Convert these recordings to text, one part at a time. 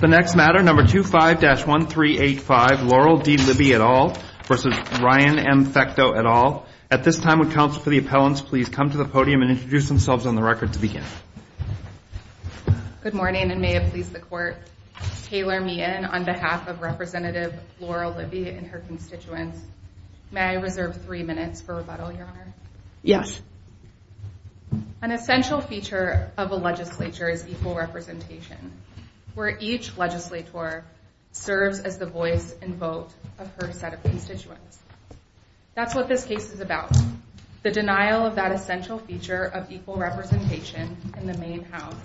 The next matter, number 25-1385, Laurel D. Libby et al. v. Ryan M. Fecteau et al. At this time, would counsel for the appellants please come to the podium and introduce themselves on the record to begin. Good morning, and may it please the Court, Taylor Meehan on behalf of Representative Laurel Libby and her constituents. May I reserve three minutes for rebuttal, Your Honor? Yes. An essential feature of a legislature is equal representation, where each legislator serves as the voice and vote of her set of constituents. That's what this case is about, the denial of that essential feature of equal representation in the main house.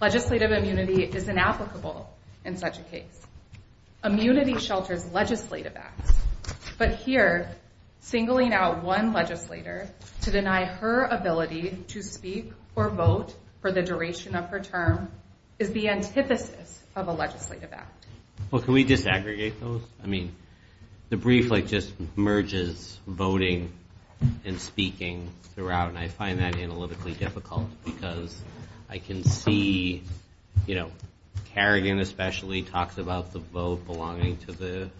Legislative immunity is inapplicable in such a case. Immunity shelters legislative acts, but here, singling out one legislator to deny her ability to speak or vote for the duration of her term is the antithesis of a legislative act. Well, can we just aggregate those? I mean, the brief just merges voting and speaking throughout, and I find that analytically difficult because I can see, you know, Kerrigan especially talks about the vote belonging to the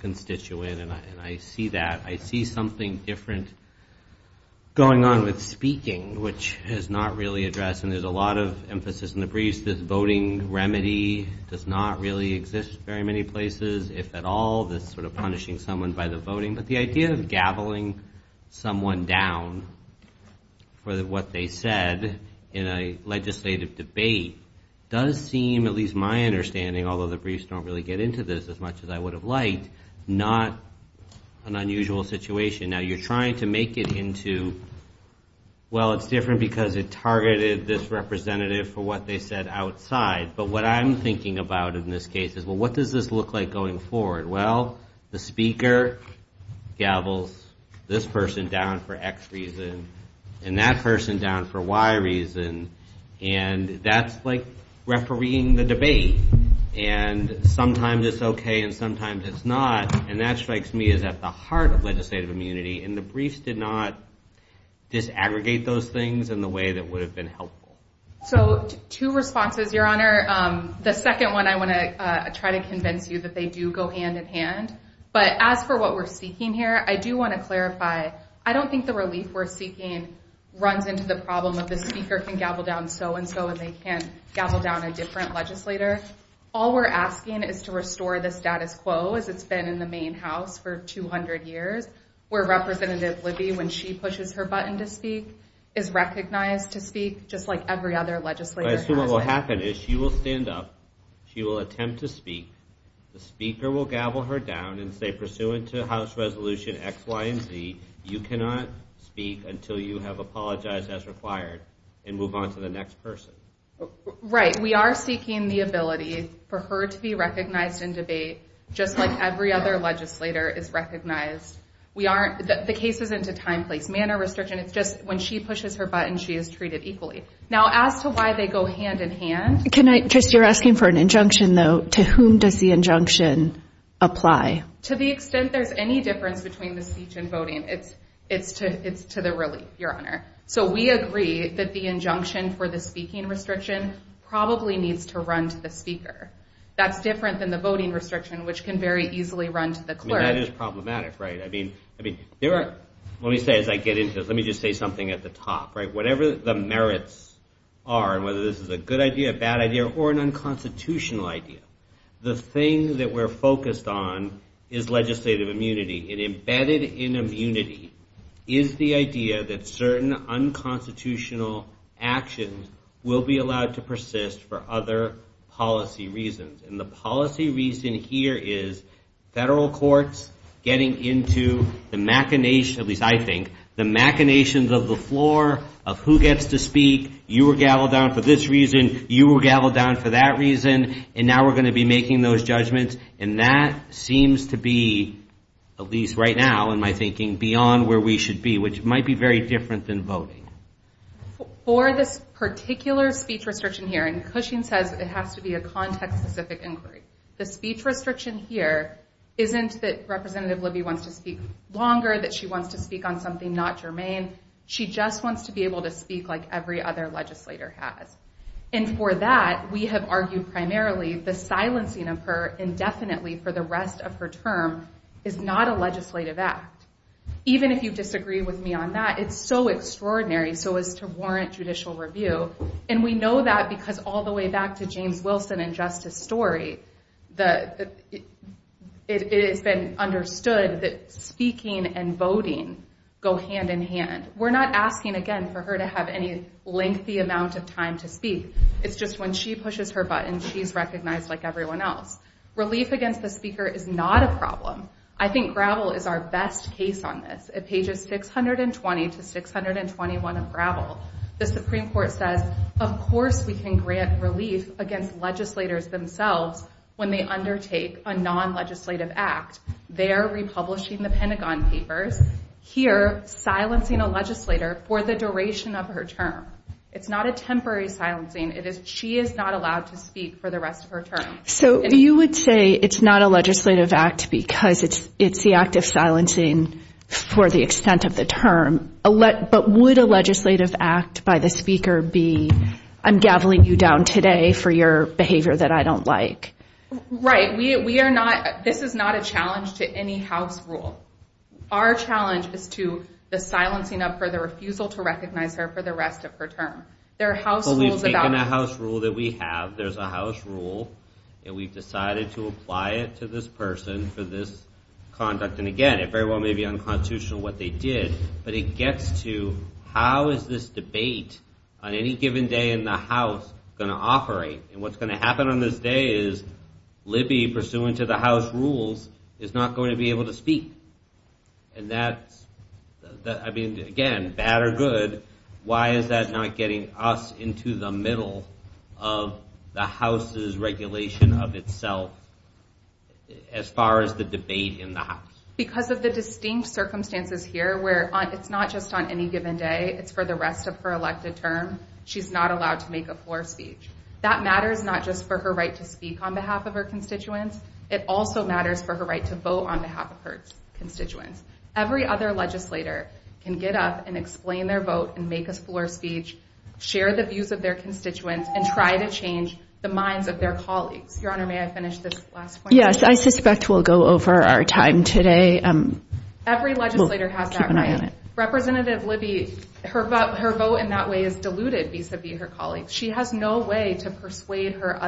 constituent, and I see that. I see something different going on with speaking, which is not really addressed, and there's a lot of emphasis in the briefs. This voting remedy does not really exist in very many places, if at all, that's sort of punishing someone by the voting. But the idea of gaveling someone down for what they said in a legislative debate does seem, at least my understanding, although the briefs don't really get into this as much as I would have liked, not an unusual situation. Now, you're trying to make it into, well, it's different because it targeted this representative for what they said outside, but what I'm thinking about in this case is, well, what does this look like going forward? Well, the speaker gavels this person down for X reason and that person down for Y reason, and that's like refereeing the debate. And sometimes it's okay and sometimes it's not, and that strikes me as at the heart of legislative immunity, and the briefs did not disaggregate those things in the way that would have been helpful. So, two responses, Your Honor. The second one I want to try to convince you that they do go hand in hand. But as for what we're seeking here, I do want to clarify, I don't think the relief we're seeking runs into the problem of the speaker can gavel down so-and-so and they can't gavel down a different legislator. All we're asking is to restore the status quo as it's been in the Maine House for 200 years, where representatives would be when she pushes her button to speak, is recognized to speak just like every other legislator. I assume what will happen is she will stand up, she will attempt to speak, the speaker will gavel her down and say, pursuant to House Resolution X, Y, and Z, you cannot speak until you have apologized as required and move on to the next person. Right. We are seeking the ability for her to be recognized in debate just like every other legislator is recognized. The case isn't a time, place, manner restriction. It's just when she pushes her button, she is treated equally. Now, as to why they go hand in hand... You're asking for an injunction, though. To whom does the injunction apply? To the extent there's any difference between the speech and voting, it's to the relief, Your Honor. So we agree that the injunction for the speaking restriction probably needs to run to the speaker. That's different than the voting restriction, which can very easily run to the clerk. That is problematic, right? Let me just say something at the top. Whatever the merits are, whether this is a good idea, a bad idea, or an unconstitutional idea, the thing that we're focused on is legislative immunity. And embedded in immunity is the idea that certain unconstitutional actions will be allowed to persist for other policy reasons. And the policy reason here is federal courts getting into the machinations, at least I think, the machinations of the floor of who gets to speak, you were gaveled down for this reason, you were gaveled down for that reason, and now we're going to be making those judgments. And that seems to be, at least right now in my thinking, beyond where we should be, which might be very different than voting. For this particular speech restriction here, and Cushing says it has to be a context-specific inquiry, the speech restriction here isn't that Representative Libby wants to speak longer, that she wants to speak on something not germane. She just wants to be able to speak like every other legislator has. And for that, we have argued primarily the silencing of her indefinitely for the rest of her term is not a legislative act. Even if you disagree with me on that, it's so extraordinary so as to warrant judicial review. And we know that because all the way back to James Wilson and Justice Story, it has been understood that speaking and voting go hand in hand. We're not asking, again, for her to have any lengthy amount of time to speak. It's just when she pushes her button, she's recognized like everyone else. Relief against the speaker is not a problem. I think Gravel is our best case on this. At pages 620 to 621 of Gravel, the Supreme Court says, of course we can grant relief against legislators themselves when they undertake a non-legislative act. They're republishing the Pentagon Papers here silencing a legislator for the duration of her term. It's not a temporary silencing. She is not allowed to speak for the rest of her term. So you would say it's not a legislative act because it's the act of silencing for the extent of the term. But would a legislative act by the speaker be, I'm gaveling you down today for your behavior that I don't like? Right. We are not, this is not a challenge to any House rule. Our challenge is to the silencing of her, the refusal to recognize her for the rest of her term. There are House rules about- Well, we've taken a House rule that we have. There's a House rule, and we've decided to apply it to this person for this conduct. And again, it very well may be unconstitutional what they did, but it gets to how is this debate on any given day in the House going to operate? And what's going to happen on this day is Libby, pursuant to the House rules, is not going to be able to speak. And that, I mean, again, bad or good, why is that not getting us into the middle of the House's regulation of itself as far as the debate in the House? Because of the distinct circumstances here where it's not just on any given day. It's for the rest of her elected term. She's not allowed to make a floor speech. That matters not just for her right to speak on behalf of her constituents. It also matters for her right to vote on behalf of her constituents. Every other legislator can get up and explain their vote and make a floor speech, share the views of their constituents, and try to change the minds of their colleagues. Your Honor, may I finish this last point? Yes, I suspect we'll go over our time today. Every legislator has that right. Representative Libby, her vote in that way is diluted vis-a-vis her colleagues. She has no way to persuade her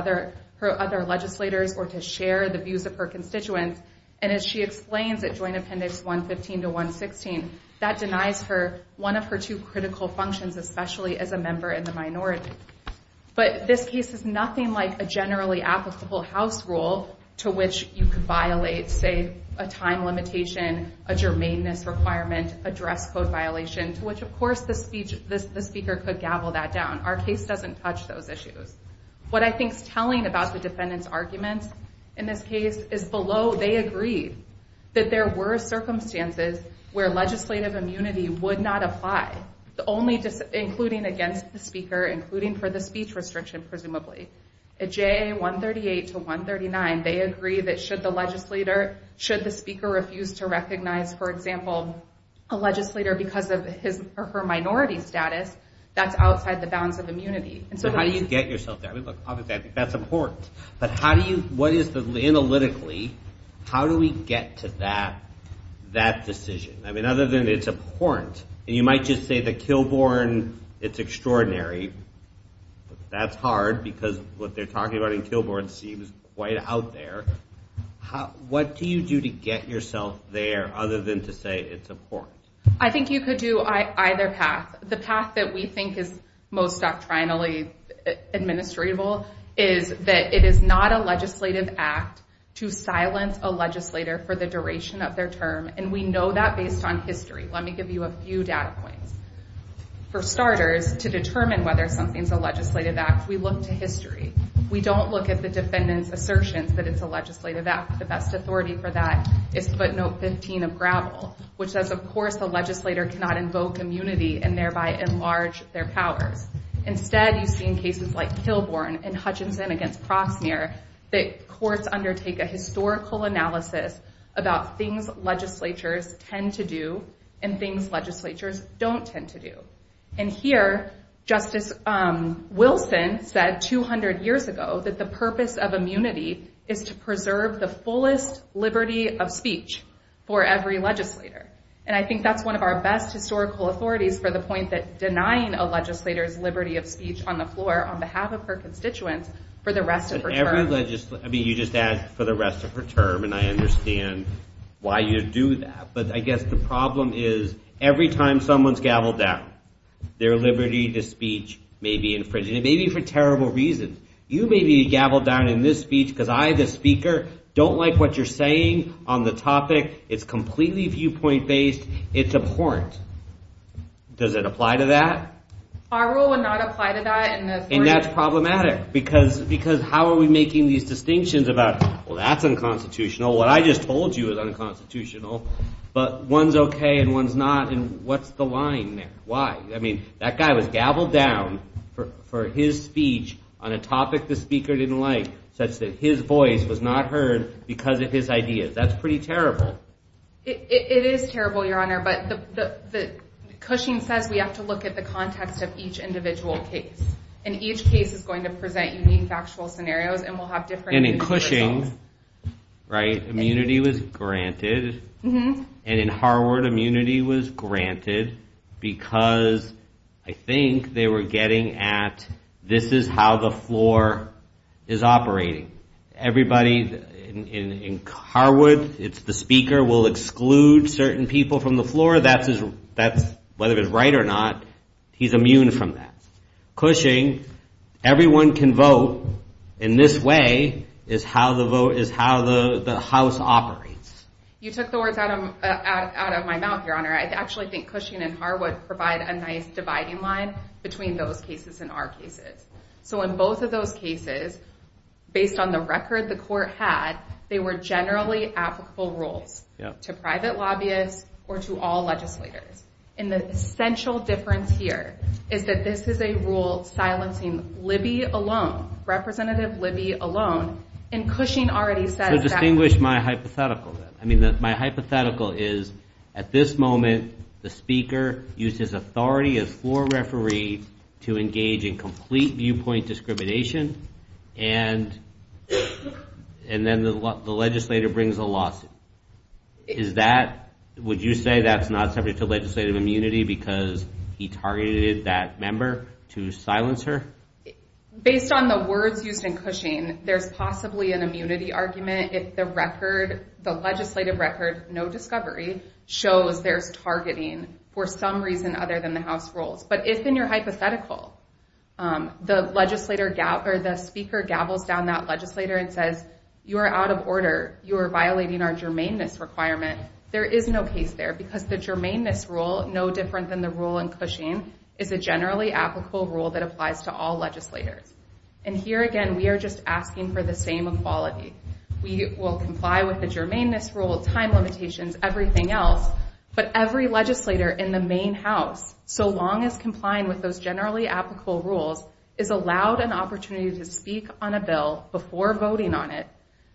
other legislators or to share the views of her constituents. And as she explains at Joint Appendix 115 to 116, that denies her one of her two critical functions, especially as a member in the minority. But this case is nothing like a generally applicable House rule to which you could violate, say, a time limitation, a germainance requirement, a direct code violation, which, of course, the Speaker could gavel that down. Our case doesn't touch those issues. What I think is telling about the defendants' arguments in this case is below they agreed that there were circumstances where legislative immunity would not apply, including against the Speaker, including for the speech restriction, presumably. At JA 138 to 139, they agree that should the Speaker refuse to recognize, for example, a legislator because of his or her minority status, that's outside the bounds of immunity. But how do you get yourself there? That's important. But how do you, what is analytically, how do we get to that decision? I mean, other than it's important. And you might just say that Kilbourn, it's extraordinary. That's hard because what they're talking about in Kilbourn seems quite out there. What do you do to get yourself there other than to say it's important? I think you could do either path. The path that we think is most doctrinally administratable is that it is not a legislative act to silence a legislator for the duration of their term. And we know that based on history. Let me give you a few data points. For starters, to determine whether something's a legislative act, we look to history. We don't look at the defendant's assertions that it's a legislative act. The best authority for that is footnote 15 of Gravel, which says, of course, a legislator cannot invoke immunity and thereby enlarge their power. Instead, you've seen cases like Kilbourn and Hutchinson against Procner that, of course, undertake a historical analysis about things legislatures tend to do and things legislatures don't tend to do. And here, Justice Wilson said 200 years ago that the purpose of immunity is to preserve the fullest liberty of speech for every legislator. And I think that's one of our best historical authorities for the point that denying a legislator liberty of speech on the floor on behalf of her constituents for the rest of her term. You just add for the rest of her term, and I understand why you'd do that. But I guess the problem is every time someone's gaveled down, their liberty of speech may be infringed, and maybe for terrible reasons. You may be gaveled down in this speech because I, the speaker, don't like what you're saying on the topic. It's completely viewpoint-based. It's abhorrent. Does it apply to that? Our rule would not apply to that. And that's problematic because how are we making these distinctions about, well, that's unconstitutional. What I just told you is unconstitutional. But one's okay and one's not, and what's the line there? Why? I mean, that guy was gaveled down for his speech on a topic the speaker didn't like such that his voice was not heard because of his ideas. That's pretty terrible. It is terrible, Your Honor, but Cushing says we have to look at the context of each individual case. And each case is going to present unique factual scenarios, and we'll have different... And in Cushing, right, immunity was granted. And in Harwood, immunity was granted because I think they were getting at, this is how the floor is operating. Everybody in Harwood, it's the speaker will exclude certain people from the floor. Whether they're right or not, he's immune from that. Cushing, everyone can vote, and this way is how the House operates. You took the words out of my mouth, Your Honor. I actually think Cushing and Harwood provide a nice dividing line between those cases and our cases. So in both of those cases, based on the record the court had, they were generally applicable rules to private lobbyists or to all legislators. And the central difference here is that this is a rule silencing Libby alone, Representative Libby alone, and Cushing already said that. So distinguish my hypothetical then. My hypothetical is at this moment the speaker uses authority of four referees to engage in complete viewpoint discrimination, and then the legislator brings a lawsuit. Is that, would you say that's not subject to legislative immunity because he targeted that member to silence her? Based on the words used in Cushing, there's possibly an immunity argument. It's the record, the legislative record, no discovery, shows they're targeting for some reason other than the House rules. But it's in your hypothetical. The legislator, or the speaker, gavels down that legislator and says, you are out of order. You are violating our germaneness requirement. There is no case there because the germaneness rule, no different than the rule in Cushing, is a generally applicable rule that applies to all legislators. And here again, we are just asking for the same equality. We will comply with the germaneness rule, time limitations, everything else, but every legislator in the main House, so long as complying with those generally applicable rules, is allowed an opportunity to speak on a bill before voting on it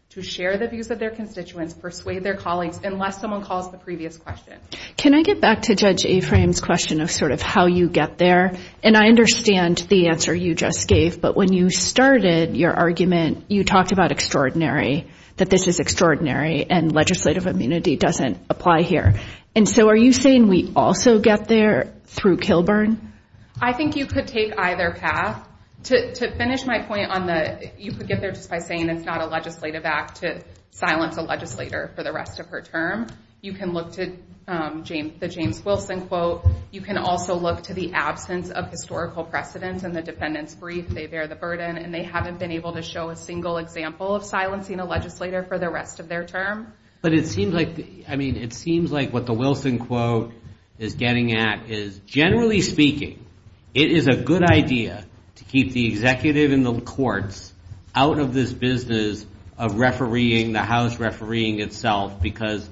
to share the views of their constituents, persuade their colleagues, unless someone calls the previous question. Can I get back to Judge Ephraim's question of sort of how you get there? And I understand the answer you just gave, but when you started your argument, you talked about extraordinary, that this is extraordinary, and legislative immunity doesn't apply here. And so are you saying we also get there through Kilburn? I think you could take either path. To finish my point on the, you could get there just by saying it's not a legislative act to silence a legislator for the rest of her term. You can look to the James Wilson quote. You can also look to the absence of historical precedence and the defendant's brief, they bear the burden, and they haven't been able to show a single example of silencing a legislator for the rest of their term. But it seems like, I mean, it seems like what the Wilson quote is getting at is generally speaking, it is a good idea to keep the executive and the courts out of this business of refereeing, the House refereeing itself, because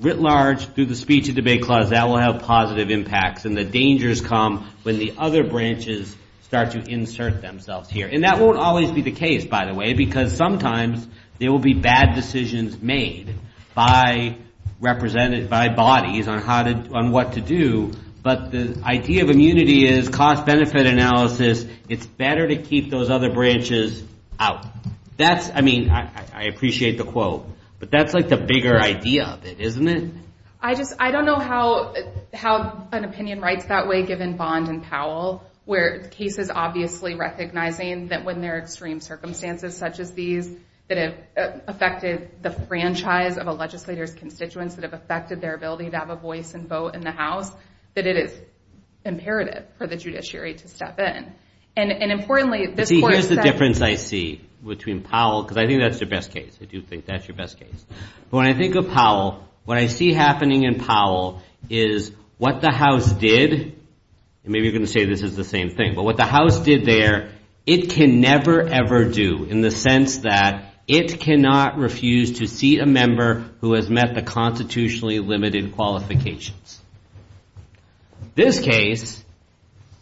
writ large, through the Speech and Debate Clause, that will have positive impacts, and the dangers come when the other branches start to insert themselves here. And that won't always be the case, by the way, because sometimes there will be bad decisions made by bodies on what to do, but the idea of immunity is cost-benefit analysis, it's better to keep those other branches out. That's, I mean, I appreciate the quote, but that's like the bigger idea of it, isn't it? I just, I don't know how an opinion writes that way, given Bond and Powell, where the case is obviously recognizing that when there are extreme circumstances such as these that have affected the franchise of a legislator's constituents that have affected their ability to have a voice and vote in the House, that it is imperative for the judiciary to step in. And importantly, this court said- See, here's the difference I see between Powell, because I think that's your best case. I do think that's your best case. When I think of Powell, what I see happening in Powell is what the House did, and maybe you're going to say this is the same thing, but what the House did there, it can never, ever do, in the sense that it cannot refuse to see a member who has met the constitutionally limited qualifications. This case,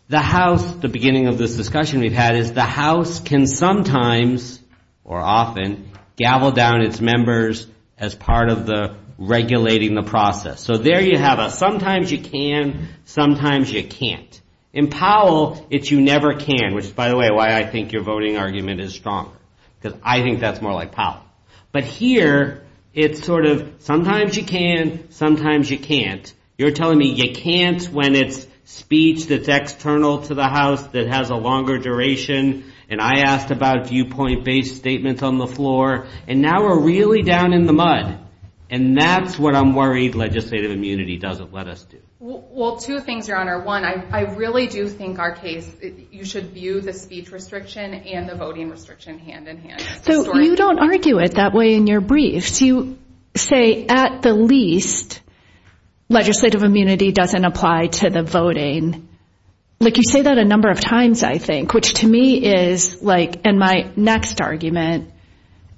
the House, the beginning of this discussion we've had, is the House can sometimes, or often, gavel down its members as part of the regulating the process. So there you have a sometimes you can, sometimes you can't. In Powell, it's you never can, which, by the way, why I think your voting argument is strong, because I think that's more like Powell. But here, it's sort of sometimes you can, sometimes you can't. You're telling me you can't when it's speech that's external to the House, that has a longer duration, and I asked about viewpoint-based statements on the floor, and now we're really down in the mud. And that's what I'm worried legislative immunity doesn't let us do. Well, two things, Your Honor. One, I really do think our case, you should view the speech restriction and the voting restriction hand-in-hand. So you don't argue it that way in your briefs. You say, at the least, legislative immunity doesn't apply to the voting. You say that a number of times, I think, which to me is like, and my next argument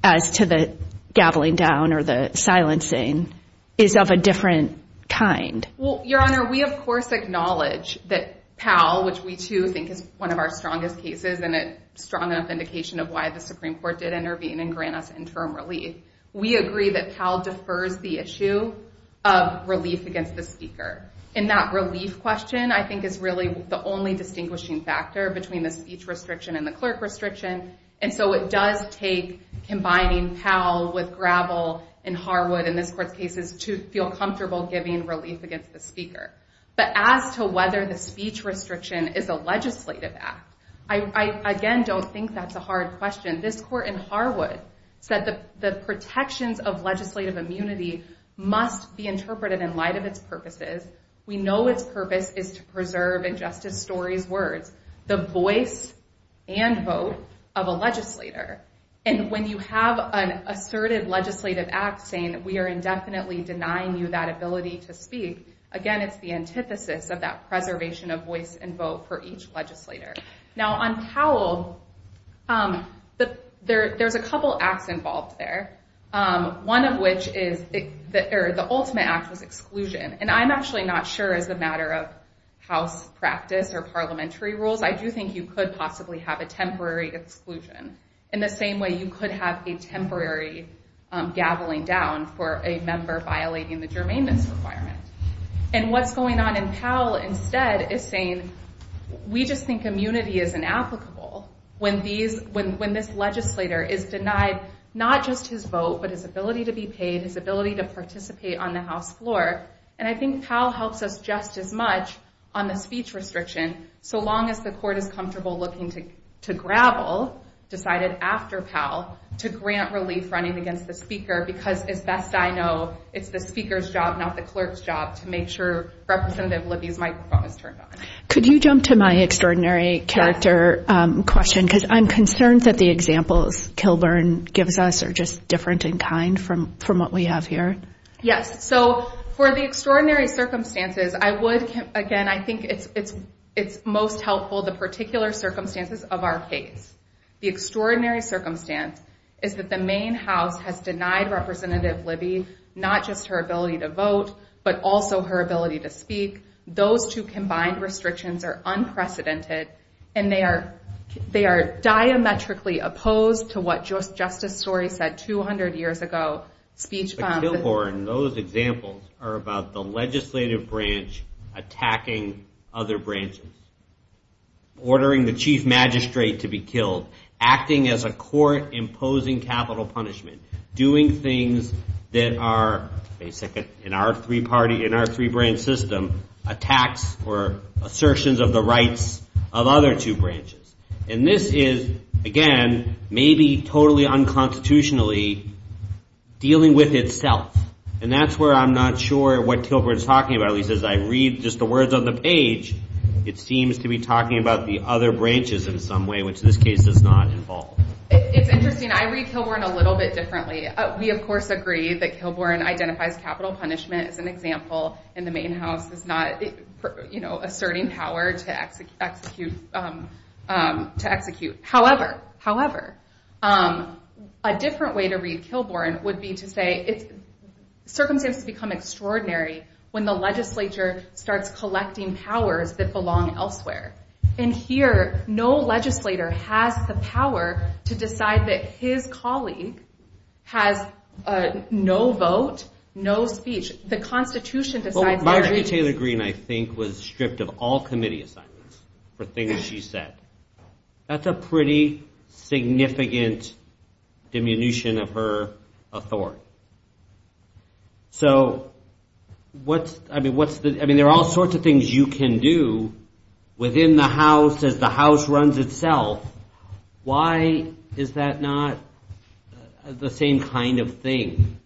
adds to the gaveling down or the silencing, is of a different kind. Well, Your Honor, we of course acknowledge that Powell, which we too think is one of our strongest cases and a strong enough indication of why the Supreme Court did intervene and grant us interim relief. We agree that Powell defers the issue of relief against the speaker. And that relief question, I think, is really the only distinguishing factor between the speech restriction and the clerk restriction, and so it does take combining Powell with Gravel and Harwood, in this court's cases, to feel comfortable giving relief against the speaker. But as to whether the speech restriction is a legislative act, I again don't think that's a hard question. This court in Harwood said that the protections of legislative immunity must be interpreted in light of its purposes. We know its purpose is to preserve, in Justice Story's words, the voice and vote of a legislator. And when you have an assertive legislative act saying that we are indefinitely denying you that ability to speak, again, it's the antithesis of that preservation of voice and vote for each legislator. Now, on Powell, there's a couple acts involved there, one of which is the ultimate act of exclusion. And I'm actually not sure, as a matter of House practice or parliamentary rules, I do think you could possibly have a temporary exclusion, in the same way you could have a temporary gaveling down for a member violating the germaneness requirement. And what's going on in Powell, instead, is saying, we just think immunity is inapplicable, when this legislator is denied not just his vote, but his ability to be paid, his ability to participate on the House floor. And I think Powell helps us just as much on the speech restriction, so long as the court is comfortable looking to gravel, decided after Powell, to grant relief running against the speaker, because as best I know, it's the speaker's job, not the clerk's job, to make sure Representative Libby's microphone is turned on. Could you jump to my extraordinary character question, because I'm concerned that the examples Kilburn gives us are just different in kind from what we have here. Yes, so for the extraordinary circumstances, I would, again, I think it's most helpful, the particular circumstances of our case. The extraordinary circumstance is that the Maine House has denied Representative Libby not just her ability to vote, but also her ability to speak, those two combined restrictions are unprecedented, and they are diametrically opposed to what Justice Sorey said 200 years ago. But Kilburn, those examples are about the legislative branch attacking other branches, ordering the chief magistrate to be killed, acting as a court, imposing capital punishment, doing things that are, in our three-party, in our three-branch system, attacks or assertions of the rights of other two branches. And this is, again, maybe totally unconstitutionally dealing with itself. And that's where I'm not sure what Kilburn's talking about. At least as I read just the words on the page, it seems to be talking about the other branches in some way, which in this case does not involve. It's interesting. I read Kilburn a little bit differently. We, of course, agree that Kilburn identifies capital punishment as an example, and the main house is not asserting power to execute. However, a different way to read Kilburn would be to say, circumstances become extraordinary when the legislature starts collecting powers that belong elsewhere. And here, no legislator has the power to decide that his colleague has no vote, no speech, the Constitution decides that. Well, Marjorie Taylor Greene, I think, was stripped of all committee assignments for things she said. That's a pretty significant diminution of her authority. So, I mean, there are all sorts of things you can do within the House as the House runs itself. Why is that not the same kind of thing?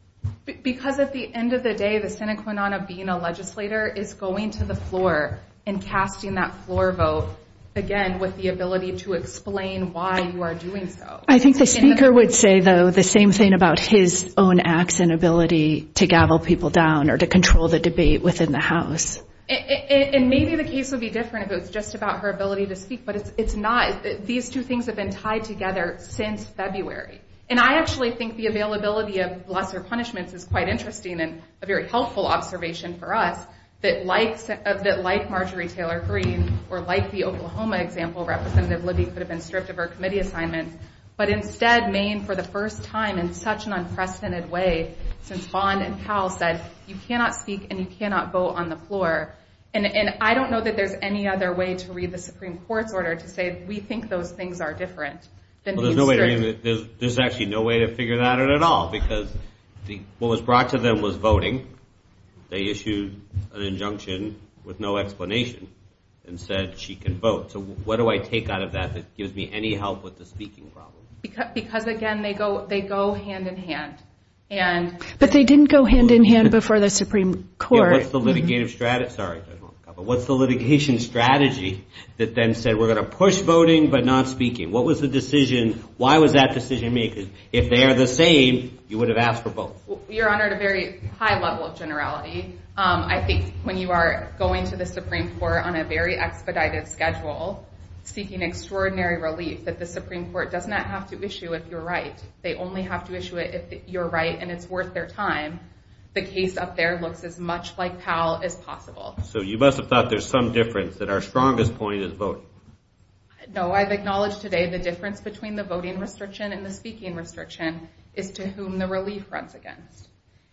Because at the end of the day, the sine qua non of being a legislator is going to the floor and casting that floor vote, again, with the ability to explain why you are doing so. I think the speaker would say, though, the same thing about his own acts and ability to gavel people down or to control the debate within the House. And maybe the case would be different if it was just about her ability to speak, but it's not. These two things have been tied together since February. And I actually think the availability of lesser punishments is quite interesting and a very helpful observation for us, that like Marjorie Taylor Greene or like the Oklahoma example represented, Lizzie could have been stripped of her committee assignments, but instead, Maine, for the first time in such an unprecedented way, since Bond and Powell said, you cannot speak and you cannot go on the floor. And I don't know that there's any other way to read the Supreme Court's order to say we think those things are different. There's actually no way to figure that out at all because what was brought to them was voting. They issued an injunction with no explanation and said she can vote. So what do I take out of that that gives me any help with the speaking problem? Because, again, they go hand-in-hand. But they didn't go hand-in-hand before the Supreme Court. What's the litigation strategy that then said we're going to push voting but not speaking? What was the decision? Why was that decision made? Because if they are the same, you would have asked for both. You're on a very high level of generality. I think when you are going to the Supreme Court on a very expedited schedule seeking extraordinary relief that the Supreme Court does not have to issue if you're right. They only have to issue it if you're right and it's worth their time. The case up there looks as much like Powell as possible. So you must have thought there's some difference, that our strongest point is both. No, I've acknowledged today the difference between the voting restriction and the speaking restriction is to whom the relief runs against.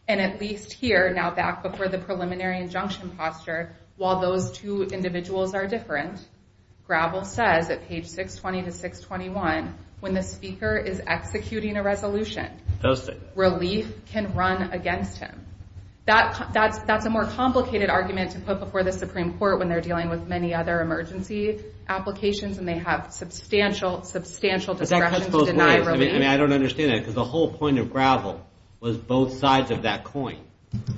And at least here, now back before the preliminary injunction posture, while those two individuals are different, Gravel says at page 620 to 621, when the speaker is executing a resolution, relief can run against him. That's a more complicated argument to put before the Supreme Court when they're dealing with many other emergency applications and they have substantial, substantial discretion to deny relief. I don't understand that because the whole point of Gravel was both sides of that coin.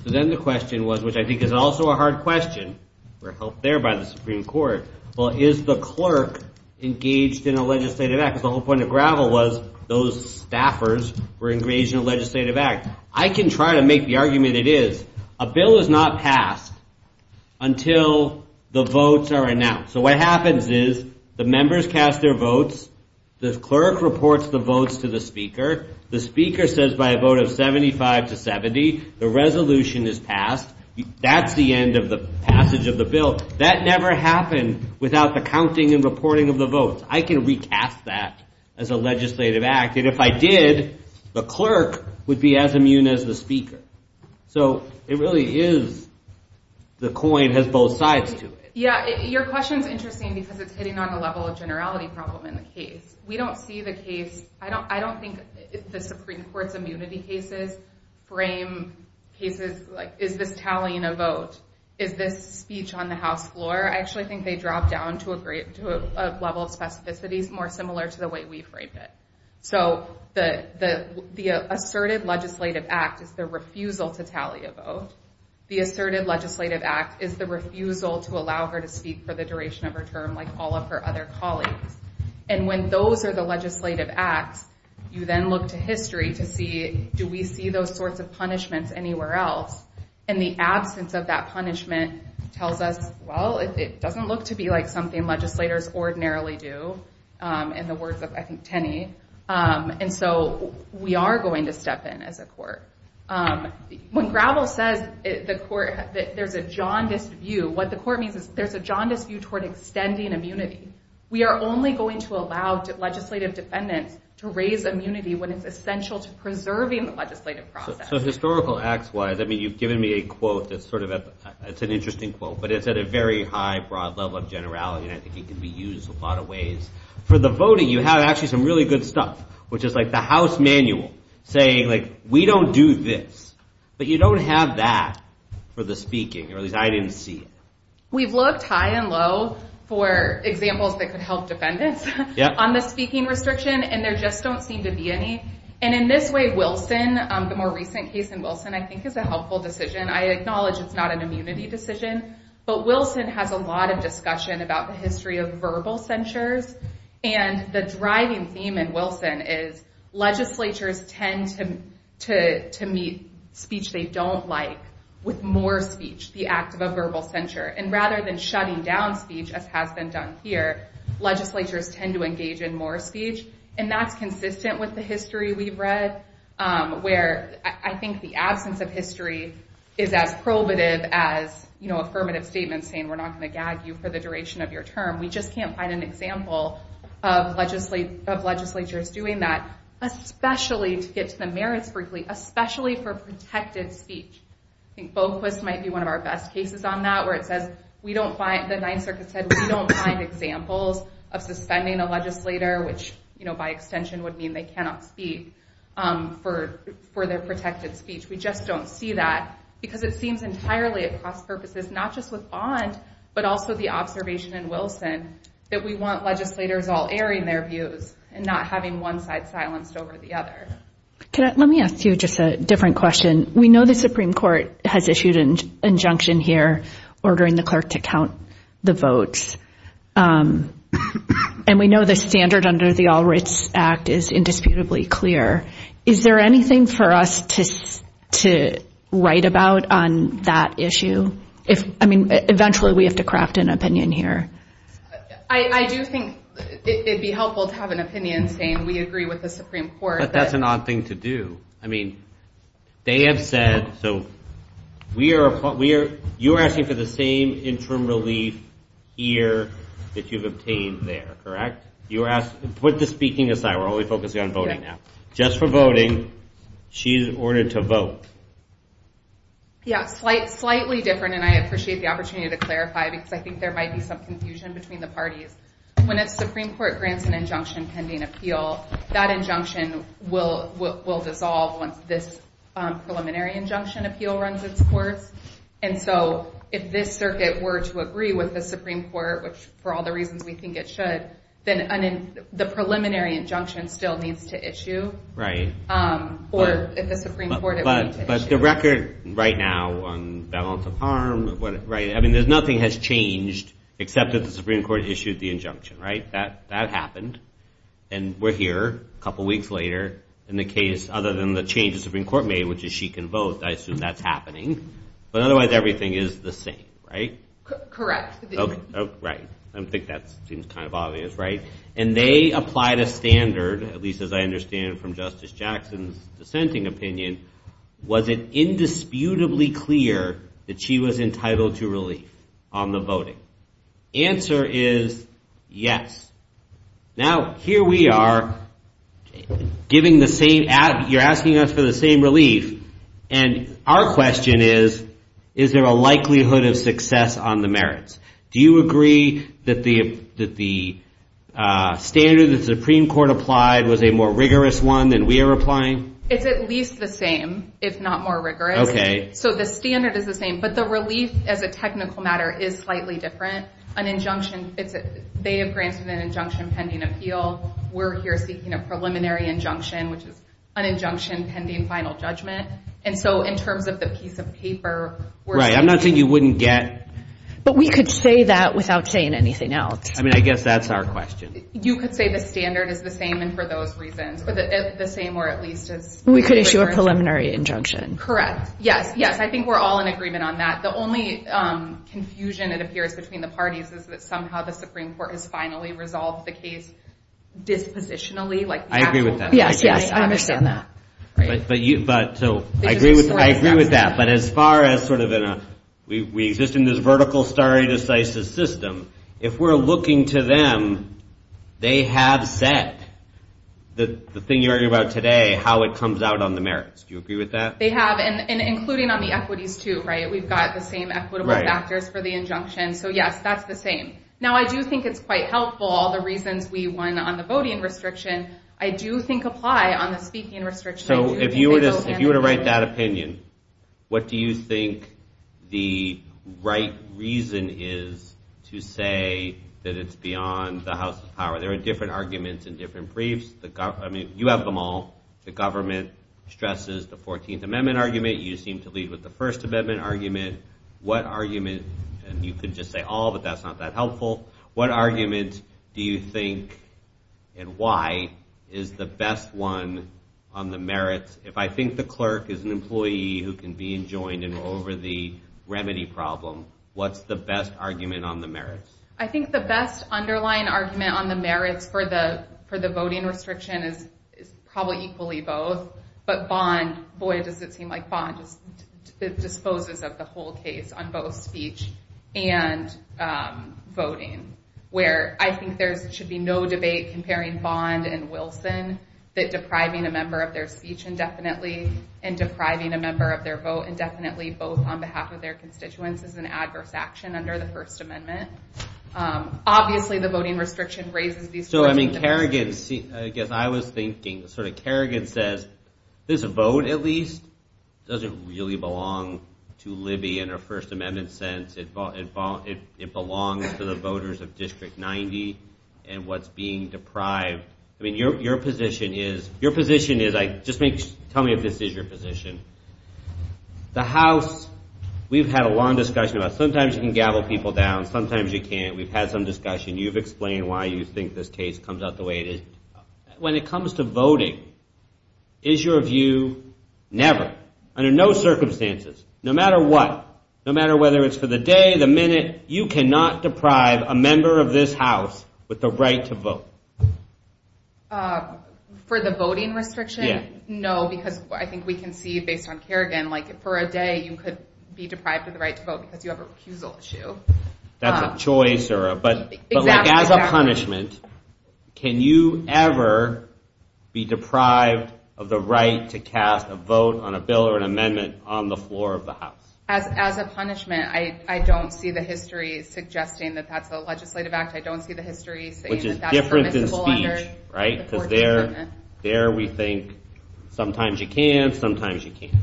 So then the question was, which I think is also a hard question, for help there by the Supreme Court, well is the clerk engaged in a legislative act? Because the whole point of Gravel was those staffers were engaged in a legislative act. I can try to make the argument it is. A bill is not passed until the votes are announced. So what happens is the members cast their votes, the clerk reports the votes to the speaker, the speaker says by a vote of 75 to 70, the resolution is passed. That's the end of the passage of the bill. That never happened without the counting and reporting of the vote. I can recast that as a legislative act. And if I did, the clerk would be as immune as the speaker. So it really is, the coin has both sides to it. Yeah, your question is interesting because it's hitting on a level of generality problem in the case. We don't see the case, I don't think the Supreme Court's immunity cases frame cases like, is this tallying a vote? Is this speech on the House floor? I actually think they drop down to a level of specificity more similar to the way we frame it. So the asserted legislative act is the refusal to tally a vote. The asserted legislative act is the refusal to allow her to speak for the duration of her term like all of her other colleagues. And when those are the legislative acts, you then look to history to see, do we see those sorts of punishments anywhere else? And the absence of that punishment tells us, well, it doesn't look to be like something legislators ordinarily do, in the words of, I think, Tenney. And so we are going to step in as a court. When Gravel says there's a jaundiced view, what the court means is there's a jaundiced view toward extending immunity. We are only going to allow legislative defendants to raise immunity when it's essential to preserving the legislative process. So historical acts-wise, I mean, you've given me a quote that's sort of, it's an interesting quote, but it's at a very high, broad level of generality, and I think it can be used in a lot of ways. For the voting, you have actually some really good stuff, which is like the House Manual saying, like, we don't do this. But you don't have that for the speaking, or at least I didn't see it. We've looked high and low for examples that could help defendants on the speaking restriction, and there just don't seem to be any. And in this way, Wilson, the more recent case in Wilson, I think is a helpful decision. I acknowledge it's not an immunity decision, but Wilson has a lot of discussion about the history of verbal censures, and the driving theme in Wilson is legislatures tend to meet speech they don't like with more speech, the act of a verbal censure. And rather than shutting down speech, as has been done here, legislatures tend to engage in more speech, and that's consistent with the history we've read, where I think the absence of history is as probative as affirmative statements saying we're not going to gag you for the duration of your term. We just can't find an example of legislatures doing that, especially to get to the merits briefly, especially for protected speech. I think Folkless might be one of our best cases on that, where it says we don't find, the Ninth Circuit said, we don't find examples of suspending a legislator, which by extension would mean they cannot speak for their protected speech. We just don't see that, because it seems entirely at cost purposes, not just with Bond, but also the observation in Wilson, that we want legislators all airing their views and not having one side silenced over the other. Let me ask you just a different question. We know the Supreme Court has issued an injunction here ordering the clerk to count the votes, and we know the standard under the All Rights Act is indisputably clear. Is there anything for us to write about on that issue? Eventually we have to craft an opinion here. I do think it would be helpful to have an opinion saying we agree with the Supreme Court. But that's an odd thing to do. They have said, you are asking for the same interim relief here that you've obtained there, correct? Put the speaking aside, we're only focusing on voting now. Just for voting, she's ordered to vote. Slightly different, and I appreciate the opportunity to clarify, because I think there might be some confusion between the parties. When a Supreme Court grants an injunction pending appeal, that injunction will dissolve once this preliminary injunction appeal runs in court. And so if this circuit were to agree with the Supreme Court, which for all the reasons we think it should, then the preliminary injunction still needs to issue. Right. Or if the Supreme Court... But the record right now on violence of harm, I mean nothing has changed except that the Supreme Court issued the injunction, right? That happened, and we're here a couple weeks later. In the case, other than the changes the Supreme Court made, which is she can vote, I assume that's happening. But otherwise everything is the same, right? Correct. Right. I think that seems kind of obvious, right? And they applied a standard, at least as I understand from Justice Jackson's dissenting opinion, was it indisputably clear that she was entitled to relief on the voting? Answer is yes. Now, here we are, you're asking us for the same relief, and our question is, is there a likelihood of success on the merits? Do you agree that the standard the Supreme Court applied was a more rigorous one than we are applying? It's at least the same. It's not more rigorous. Okay. So the standard is the same, but the relief as a technical matter is slightly different. An injunction, if they have granted an injunction pending appeal, we're here speaking of preliminary injunction, which is an injunction pending final judgment. And so in terms of the piece of paper, we're— Right. I'm not saying you wouldn't get— But we could say that without saying anything else. I mean, I guess that's our question. You could say the standard is the same, and for those reasons, or the same or at least as— We could issue a preliminary injunction. Correct. Yes, yes. I think we're all in agreement on that. The only confusion that appears between the parties is that somehow the Supreme Court has finally resolved the case dispositionally. I agree with that. Yes, yes. I understand that. So I agree with that. But as far as sort of in a—we exist in this vertical stare decisis system. If we're looking to them, they have set the thing you're arguing about today, how it comes out on the merits. Do you agree with that? They have, and including on the equities too, right? We've got the same equitable factors for the injunction. So, yes, that's the same. Now, I do think it's quite helpful, all the reasons we won on the voting restriction, I do think apply on the speaking restriction. So if you were to write that opinion, what do you think the right reason is to say that it's beyond the House of Power? There are different arguments and different briefs. I mean, you have them all. The government stresses the 14th Amendment argument. You seem to lead with the First Amendment argument. What argument—and you could just say all, but that's not that helpful. What argument do you think and why is the best one on the merits? If I think the clerk is an employee who can be enjoined and over the remedy problem, what's the best argument on the merits? I think the best underlying argument on the merits for the voting restriction is probably equally both. But Bond—boy, does it seem like Bond disposes of the whole case on both speech and voting, where I think there should be no debate comparing Bond and Wilson that depriving a member of their speech indefinitely and depriving a member of their vote indefinitely both on behalf of their constituents is an adverse action under the First Amendment. Obviously, the voting restriction raises these questions. So, I mean, Kerrigan—I guess I was thinking, sort of Kerrigan says, this vote at least doesn't really belong to Libby in a First Amendment sense. It belongs to the voters of District 90 and what's being deprived. I mean, your position is—just tell me if this is your position. The House—we've had a long discussion about it. Sometimes you can gavel people down, sometimes you can't. We've had some discussion. You've explained why you think this case comes out the way it is. When it comes to voting, is your view never, under no circumstances, no matter what, no matter whether it's for the day, the minute, you cannot deprive a member of this House with the right to vote? For the voting restriction? Yes. No, because I think we can see based on Kerrigan, like for a day, you could be deprived of the right to vote because you have a recusal issue. That's a choice. Exactly. But as a punishment, can you ever be deprived of the right to cast a vote on a bill or an amendment on the floor of the House? As a punishment, I don't see the history suggesting that that's a legislative act. I don't see the history saying that that's permissible under— Which is different than speech, right? So there we think sometimes you can, sometimes you can't.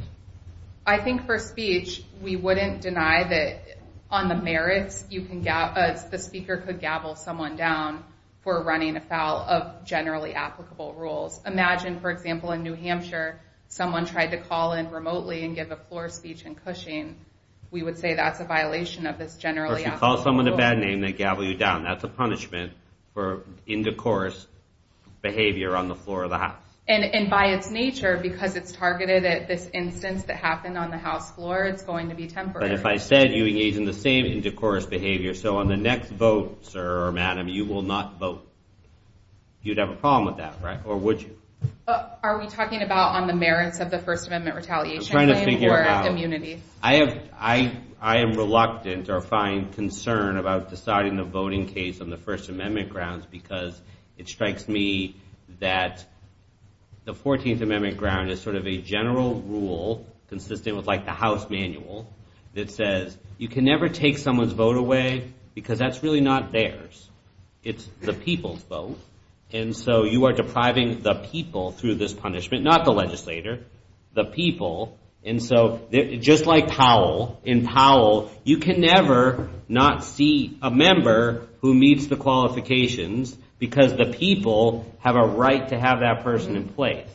I think for speech, we wouldn't deny that on the merits, the speaker could gavel someone down for running afoul of generally applicable rules. So imagine, for example, in New Hampshire, someone tried to call in remotely and give a floor speech in Cushing. We would say that's a violation of this generally applicable rule. Or if you call someone a bad name, they gavel you down. That's a punishment for indecorous behavior on the floor of the House. And by its nature, because it's targeted at this instance that happened on the House floor, it's going to be temporary. But if I said you engage in the same indecorous behavior, so on the next vote, sir or madam, you will not vote. You'd have a problem with that, right? Or would you? Are we talking about on the merits of the First Amendment retaliation? I'm trying to figure it out. I am reluctant or find concern about deciding the voting case on the First Amendment grounds because it strikes me that the 14th Amendment ground is sort of a general rule consistent with like the House manual that says you can never take someone's vote away because that's really not theirs. It's the people's vote. And so you are depriving the people through this punishment, not the legislator, the people. And so just like Powell, in Powell, you can never not see a member who meets the qualifications because the people have a right to have that person in place.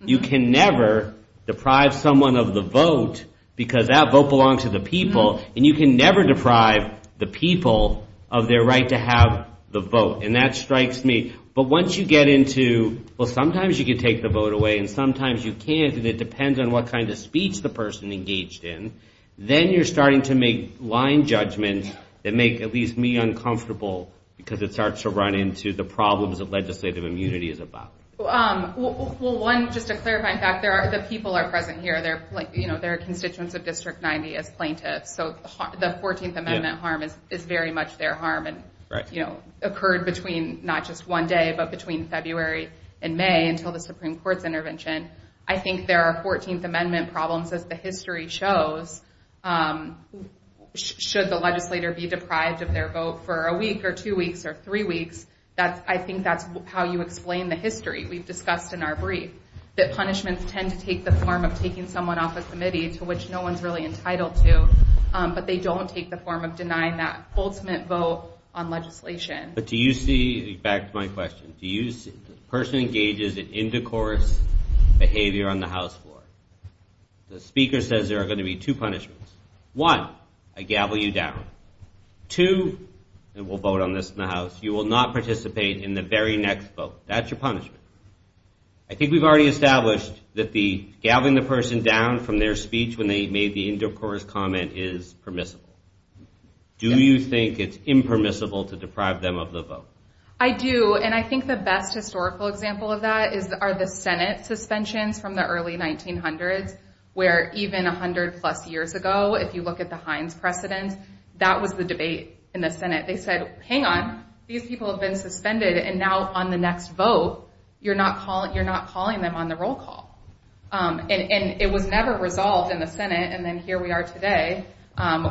You can never deprive someone of the vote because that vote belongs to the people. And you can never deprive the people of their right to have the vote. And that strikes me. But once you get into, well, sometimes you can take the vote away and sometimes you can't, and it depends on what kind of speech the person engaged in, then you're starting to make line judgments that make at least me uncomfortable because it starts to run into the problems that legislative immunity is about. Well, one, just to clarify, the people are present here. They're constituents of District 90 as plaintiffs. So the 14th Amendment harm is very much their harm and occurred between not just one day but between February and May until the Supreme Court's intervention. I think there are 14th Amendment problems as the history shows. Should the legislator be deprived of their vote for a week or two weeks or three weeks, I think that's how you explain the history. We've discussed in our brief that punishments tend to take the form of taking someone off a committee to which no one's really entitled to, but they don't take the form of denying that ultimate vote on legislation. But do you see, back to my question, do you see the person engages in intercourse behavior on the House floor? The speaker says there are going to be two punishments. One, I gavel you down. Two, we'll vote on this in the House. You will not participate in the very next vote. That's your punishment. I think we've already established that gaveling the person down from their speech when they made the intercourse comment is permissible. Do you think it's impermissible to deprive them of the vote? I do, and I think the best historical example of that are the Senate suspensions from the early 1900s where even 100-plus years ago, if you look at the Heinz precedent, that was the debate in the Senate. They said, hang on, these people have been suspended, and now on the next vote, you're not calling them on the roll call. And it was never resolved in the Senate, and then here we are today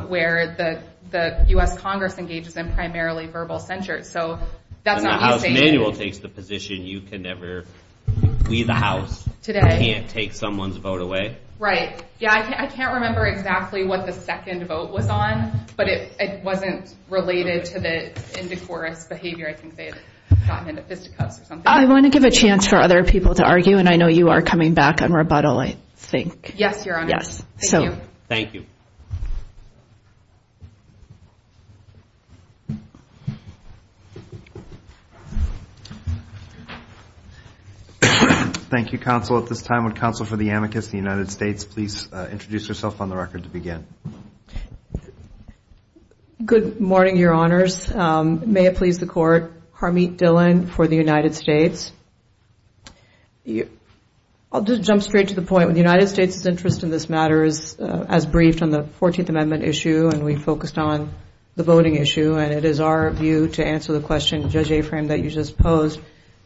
where the U.S. Congress engages in primarily verbal censure. And the House manual takes the position you can never leave the House. You can't take someone's vote away. Right. Yeah, I can't remember exactly what the second vote was on, but it wasn't related to the intercourse behavior. I think they had gotten into fistfights or something. I want to give a chance for other people to argue, and I know you are coming back on rebuttal, I think. Yes, Your Honor. Thank you. Thank you. Thank you, counsel. At this time, would counsel for the amicus of the United States please introduce herself on the record to begin? Good morning, Your Honors. May it please the Court, Harmeet Dhillon for the United States. I'll just jump straight to the point. When the United States' interest in this matter is as briefed on the 14th Amendment issue, and we focused on the voting issue, and it is our view to answer the question, Judge Afrin, that you just posed,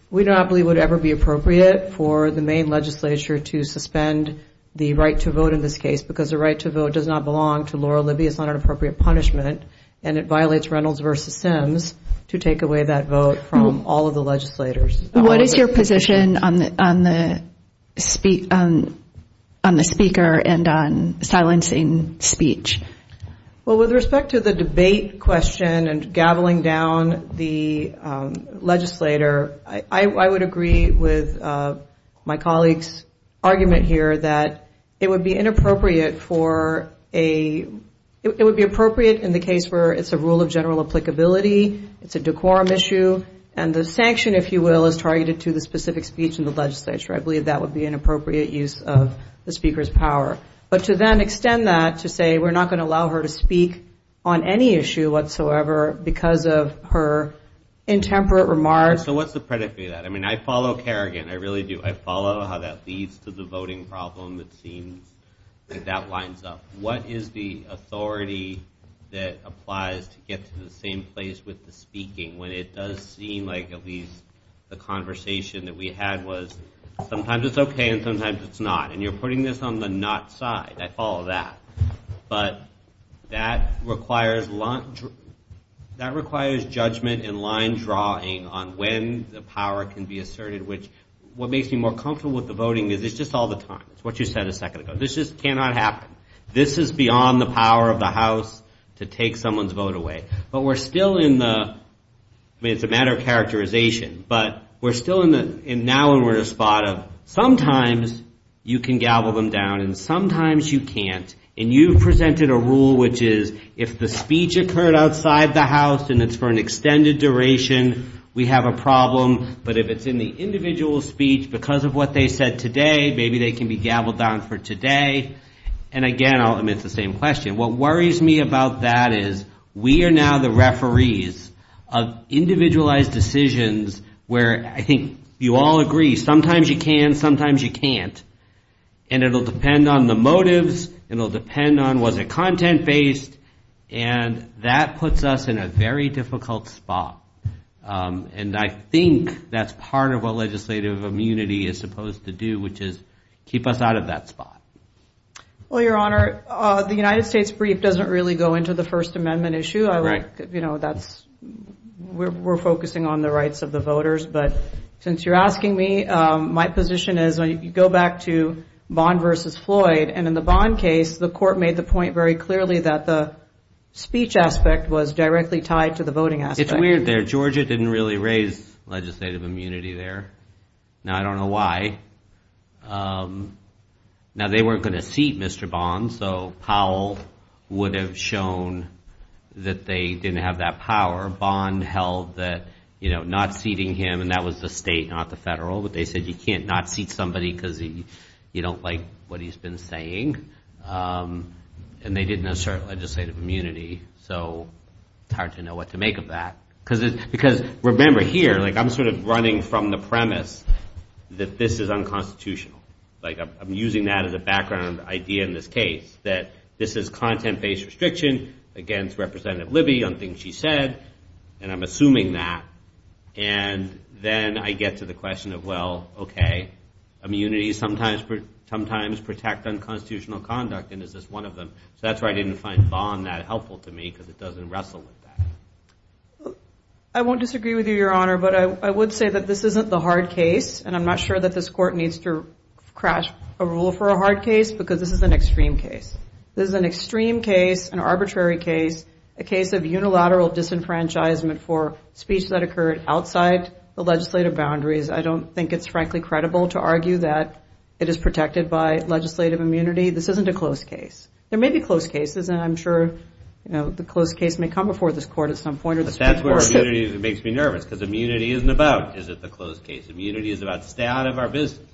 we do not believe it would ever be appropriate for the main legislature to suspend the right to vote in this case because the right to vote does not belong to Laura Libby. It's not an appropriate punishment, and it violates Reynolds v. Sims to take away that vote from all of the legislators. What is your position on the speaker and on silencing speech? Well, with respect to the debate question and gaveling down the legislator, I would agree with my colleague's argument here that it would be inappropriate for a – it would be appropriate in the case where it's a rule of general applicability, it's a decorum issue, and the sanction, if you will, is targeted to the specific speech in the legislature. I believe that would be an inappropriate use of the speaker's power. But to then extend that to say we're not going to allow her to speak on any issue whatsoever because of her intemperate remarks. So what's the predicate of that? I mean, I follow Kerrigan. I really do. I follow how that leads to the voting problem that seems that that lines up. What is the authority that applies to get to the same place with the speaking when it does seem like at least the conversation that we had was sometimes it's okay and sometimes it's not? And you're putting this on the not side. I follow that. But that requires judgment and line drawing on when the power can be asserted, which what makes me more comfortable with the voting is it's just all the time. It's what you said a second ago. This just cannot happen. This is beyond the power of the House to take someone's vote away. But we're still in the – I mean, it's a matter of characterization, but we're still in the – and now we're in a spot of sometimes you can gavel them down and sometimes you can't. And you presented a rule which is if the speech occurred outside the House and it's for an extended duration, we have a problem. But if it's in the individual speech because of what they said today, maybe they can be gaveled down for today. And, again, I'll admit it's the same question. What worries me about that is we are now the referees of individualized decisions where I think you all agree sometimes you can, sometimes you can't. And it will depend on the motives. It will depend on was it content-based. And that puts us in a very difficult spot. And I think that's part of what legislative immunity is supposed to do, which is keep us out of that spot. Well, Your Honor, the United States brief doesn't really go into the First Amendment issue. You know, that's – we're focusing on the rights of the voters. But since you're asking me, my position is go back to Bond v. Floyd. And in the Bond case, the court made the point very clearly that the speech aspect was directly tied to the voting aspect. It's weird there. Georgia didn't really raise legislative immunity there. Now I don't know why. Now, they weren't going to seat Mr. Bond, so Powell would have shown that they didn't have that power. Bond held that, you know, not seating him and that was the state, not the federal. But they said you can't not seat somebody because you don't like what he's been saying. And they didn't assert legislative immunity. So it's hard to know what to make of that. Because remember here, like I'm sort of running from the premise that this is unconstitutional. Like I'm using that as a background idea in this case, that this is content-based restriction against Representative Libby on things she said, and I'm assuming that. And then I get to the question of, well, okay, immunity sometimes protects unconstitutional conduct and is just one of them. So that's why I didn't find Bond that helpful to me because it doesn't wrestle with that. I won't disagree with you, Your Honor, but I would say that this isn't the hard case. And I'm not sure that this court needs to crash a rule for a hard case because this is an extreme case. This is an extreme case, an arbitrary case, a case of unilateral disenfranchisement for speech that occurred outside the legislative boundaries. I don't think it's frankly credible to argue that it is protected by legislative immunity. This isn't a closed case. There may be closed cases, and I'm sure the closed case may come before this court at some point. But that's where immunity makes me nervous because immunity isn't about, is it, the closed case. Immunity is about stay out of our business.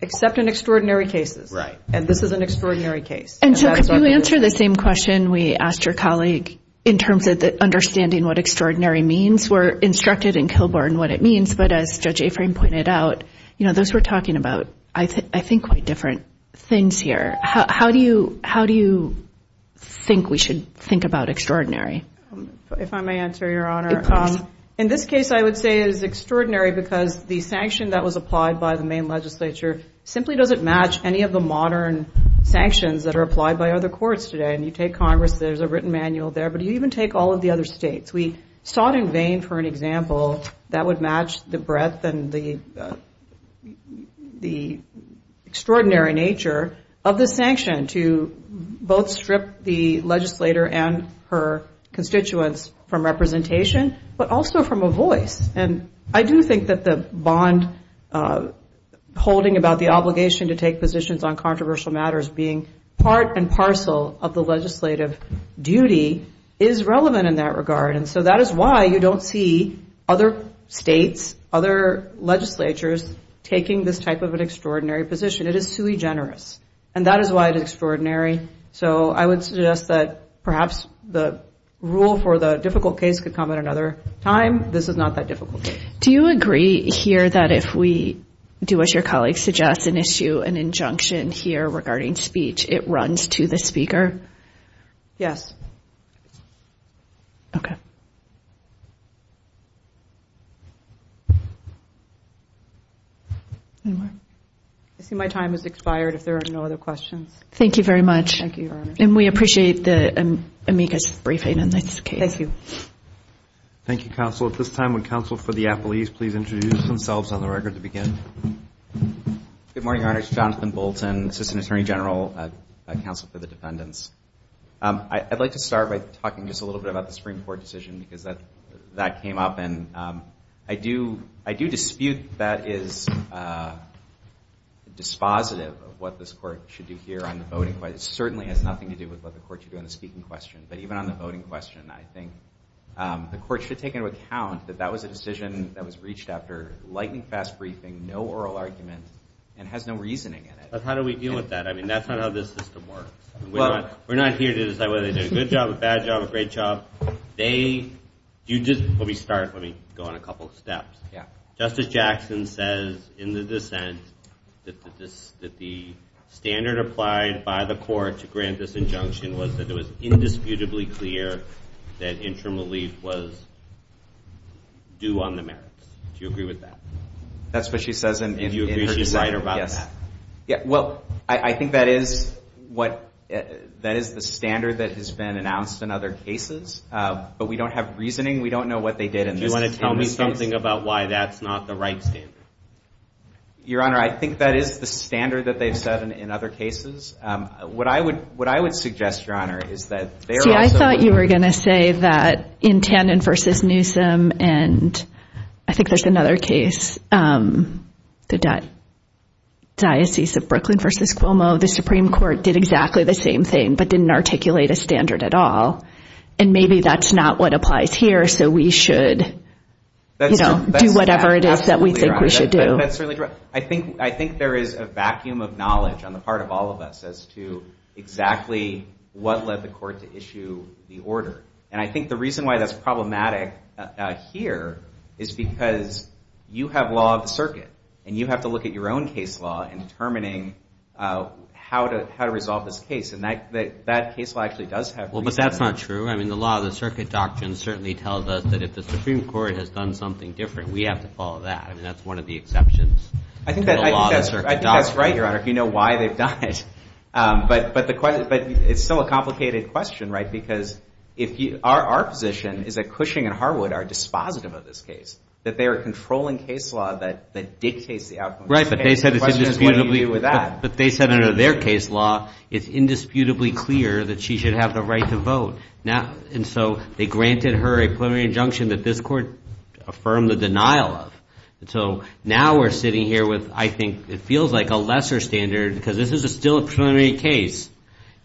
Except in extraordinary cases. Right. And this is an extraordinary case. And so to answer the same question we asked your colleague, in terms of understanding what extraordinary means, we're instructed in Kilbourne what it means. But as Judge Afrin pointed out, those we're talking about, I think, quite different things here. How do you think we should think about extraordinary? If I may answer, Your Honor. In this case, I would say it is extraordinary because the sanction that was applied by the main legislature simply doesn't match any of the modern sanctions that are applied by other courts today. And you take Congress, there's a written manual there. But you even take all of the other states. We sought in vain for an example that would match the breadth and the extraordinary nature of the sanction to both strip the legislator and her constituents from representation, but also from a voice. And I do think that the bond holding about the obligation to take positions on controversial matters being part and parcel of the legislative duty is relevant in that regard. And so that is why you don't see other states, other legislatures, taking this type of an extraordinary position. It is too egenerous. And that is why it's extraordinary. So I would suggest that perhaps the rule for the difficult case could come at another time. This is not that difficult. Do you agree here that if we do as your colleague suggests and issue an injunction here regarding speech, it runs to the speaker? Yes. I see my time has expired if there are no other questions. Thank you very much. Thank you, Your Honor. And we appreciate the amicus briefing in this case. Thank you. Thank you, Counsel. At this time, would Counsel for the Appellees please introduce themselves on the record to begin? Good morning, Your Honor. This is Jonathan Bolton, Assistant Attorney General at Counsel for the Defendants. I'd like to start by talking just a little bit about the Supreme Court decision that came up. And I do dispute that is dispositive of what this Court should do here on the voting. But it certainly has nothing to do with what the Court should do on the speaking question. But even on the voting question, I think the Court should take into account that that was a decision that was reached after light and fast briefing, no oral argument, and has no reasoning in it. But how do we deal with that? I mean, that's not how this system works. We're not here to say, well, they did a good job, a bad job, a great job. They do just what we start when we go on a couple of steps. Yeah. Justice Jackson says in the dissent that the standard applied by the Court to grant this injunction was that it was indisputably clear that interim relief was due on the merits. Do you agree with that? That's what she says in the dissent. Do you agree that she's right about that? Yeah. Well, I think that is the standard that has been announced in other cases. But we don't have reasoning. We don't know what they did in this case. Do you want to tell me something about why that's not the right standard? Your Honor, I think that is the standard that they've said in other cases. What I would suggest, Your Honor, is that there are some— See, I thought you were going to say that in Tannen v. Newsom, and I think there's another case, the Diocese of Brooklyn v. Cuomo, the Supreme Court did exactly the same thing but didn't articulate a standard at all. And maybe that's not what applies here, so we should do whatever it is that we think we should do. That's certainly true. I think there is a vacuum of knowledge on the part of all of us as to exactly what led the court to issue the order. And I think the reason why that's problematic here is because you have law of the circuit, and you have to look at your own case law in determining how to resolve this case. And that case law actually does have— Well, but that's not true. I mean, the law of the circuit doctrine certainly tells us that if the Supreme Court has done something different, we have to follow that. I mean, that's one of the exceptions to the law of the circuit doctrine. I think that's right, Your Honor, if you know why they've done it. But it's still a complicated question, right? Because our position is that Cushing and Harwood are dispositive of this case, that they are controlling case law that dictates the outcome. Right, but they said in their case law it's indisputably clear that she should have the right to vote. And so they granted her a preliminary injunction that this court affirmed the denial of. And so now we're sitting here with, I think, it feels like a lesser standard, because this is still a preliminary case.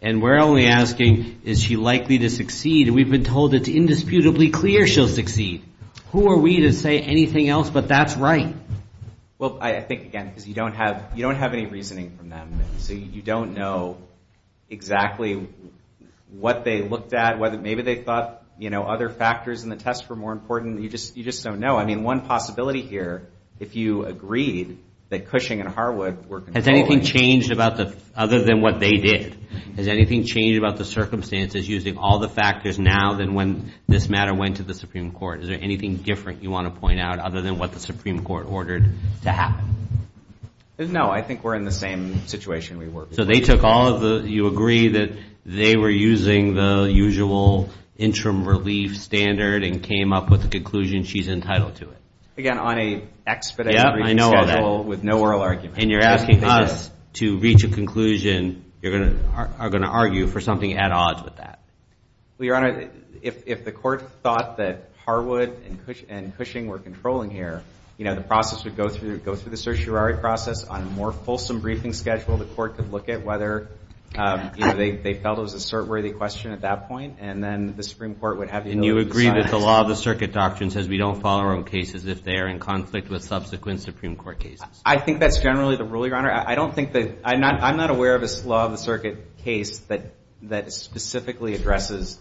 And we're only asking, is she likely to succeed? We've been told it's indisputably clear she'll succeed. Who are we to say anything else but that's right? Well, I think, again, you don't have any reasoning from them. So you don't know exactly what they looked at. Maybe they thought other factors in the test were more important. You just don't know. I mean, one possibility here, if you agreed that Cushing and Harwood were controlling. Has anything changed other than what they did? Has anything changed about the circumstances using all the factors now than when this matter went to the Supreme Court? Is there anything different you want to point out other than what the Supreme Court ordered to happen? No, I think we're in the same situation we were. So they took all of the – you agree that they were using the usual interim relief standard and came up with the conclusion she's entitled to it. Again, on an expedited schedule with no oral argument. And you're asking us to reach a conclusion. You're going to argue for something at odds with that. Well, Your Honor, if the court thought that Harwood and Cushing were controlling here, the process would go through the certiorari process. On a more fulsome briefing schedule, the court could look at whether they felt it was a cert-worthy question at that point. And then the Supreme Court would have you know. And you agree that the law of the circuit doctrine says we don't follow our own cases if they are in conflict with subsequent Supreme Court cases. I think that's generally the rule, Your Honor. I don't think that – I'm not aware of a law of the circuit case that specifically addresses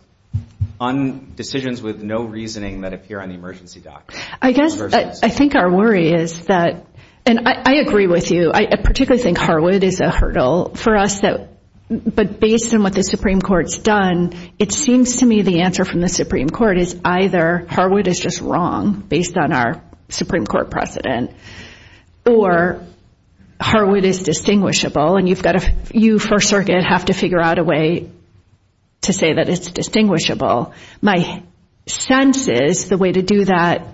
decisions with no reasoning that appear on the emergency documents. I guess I think our worry is that – and I agree with you. I particularly think Harwood is a hurdle for us. But based on what the Supreme Court's done, it seems to me the answer from the Supreme Court is either Harwood is just wrong based on our Supreme Court precedent or Harwood is distinguishable. And you first have to figure out a way to say that it's distinguishable. My sense is the way to do that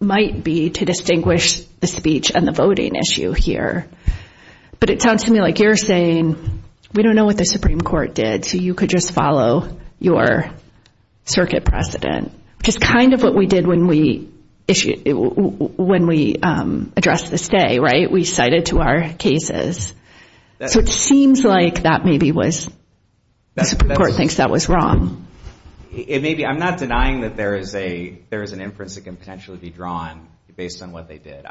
might be to distinguish the speech and the voting issue here. But it sounds to me like you're saying we don't know what the Supreme Court did, so you could just follow your circuit precedent. Which is kind of what we did when we addressed this day, right? We cited to our cases. It seems like that maybe was – the Supreme Court thinks that was wrong. I'm not denying that there is an inference that can potentially be drawn based on what they did.